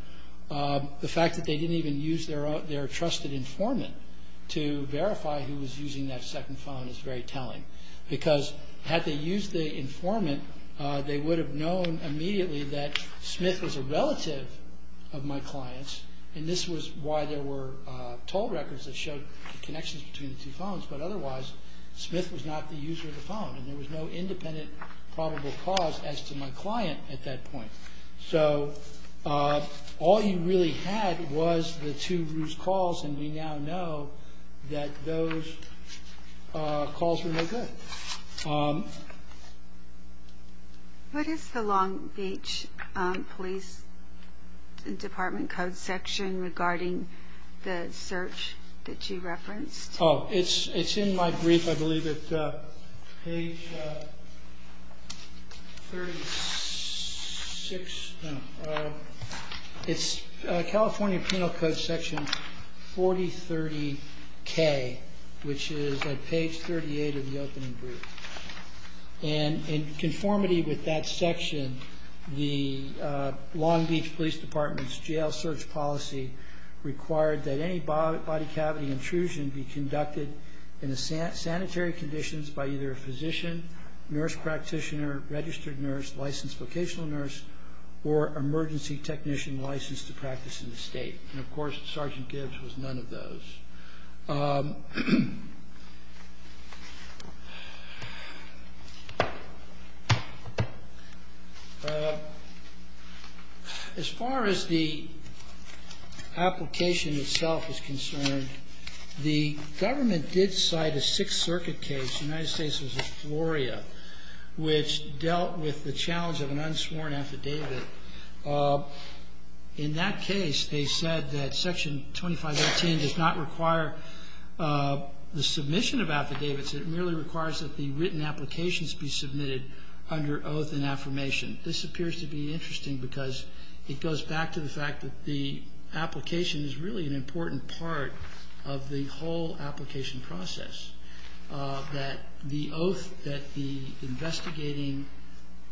The fact that they didn't even use their trusted informant to verify who was using that second phone is very telling, because had they used the informant, they would have known immediately that Smith was a relative of my client's, and this was why there were toll records that showed connections between the two phones, but otherwise Smith was not the user of the phone, and there was no independent probable cause as to my client at that point. So all you really had was the two ruse calls, and we now know that those calls were no good. What is the Long Beach Police Department code section regarding the search that you referenced? Oh, it's in my brief. I believe it's page 36. It's California Penal Code section 4030K, which is at page 38 of the opening brief, and in conformity with that section, the Long Beach Police Department's jail search policy required that any body cavity intrusion be conducted in sanitary conditions by either a physician, nurse practitioner, registered nurse, licensed vocational nurse, or emergency technician licensed to practice in the state, and of course Sergeant Gibbs was none of those. As far as the application itself is concerned, the government did cite a Sixth Circuit case, United States v. Florida, which dealt with the challenge of an unsworn affidavit. In that case, they said that section 2518 does not require the submission of affidavits. It merely requires that the written applications be submitted under oath and affirmation. This appears to be interesting because it goes back to the fact that the application is really an important part of the whole application process, that the oath that the investigating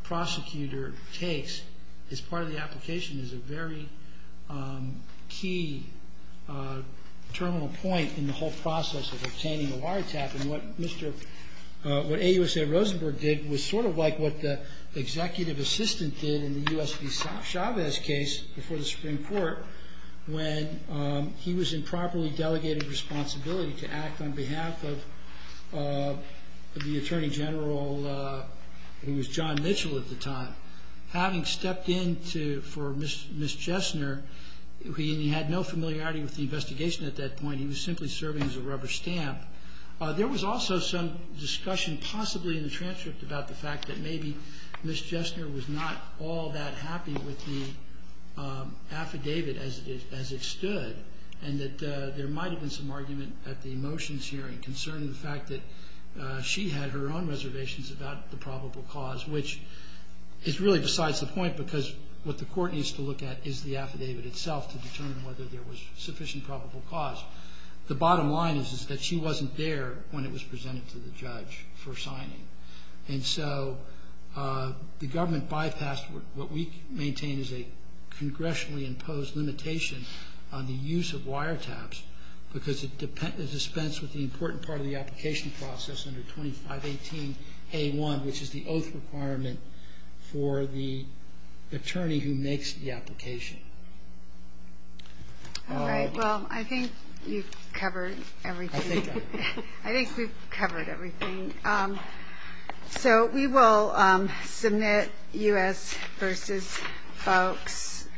prosecutor takes as part of the application is a very key terminal point in the whole process of obtaining a wiretap, and what AUSA Rosenberg did was sort of like what the executive assistant did in the U.S. v. Chavez case before the Supreme Court when he was in properly delegated responsibility to act on behalf of the Attorney General, who was John Mitchell at the time. Having stepped in for Ms. Chesner, he had no familiarity with the investigation at that point. He was simply serving as a rubber stamp. There was also some discussion, possibly in the transcript, about the fact that maybe Ms. Chesner was not all that happy with the affidavit as it stood and that there might have been some argument at the motions hearing concerning the fact that she had her own reservations about the probable cause, which is really besides the point because what the court needs to look at is the affidavit itself to determine whether there was sufficient probable cause. The bottom line is that she wasn't there when it was presented to the judge for signing, and so the government bypassed what we maintain is a congressionally imposed limitation on the use of wiretaps because it dispensed with the important part of the application process under 2518A1, which is the oath requirement for the attorney who makes the application. All right. Well, I think you've covered everything. I think we've covered everything. So we will submit U.S. v. FOC.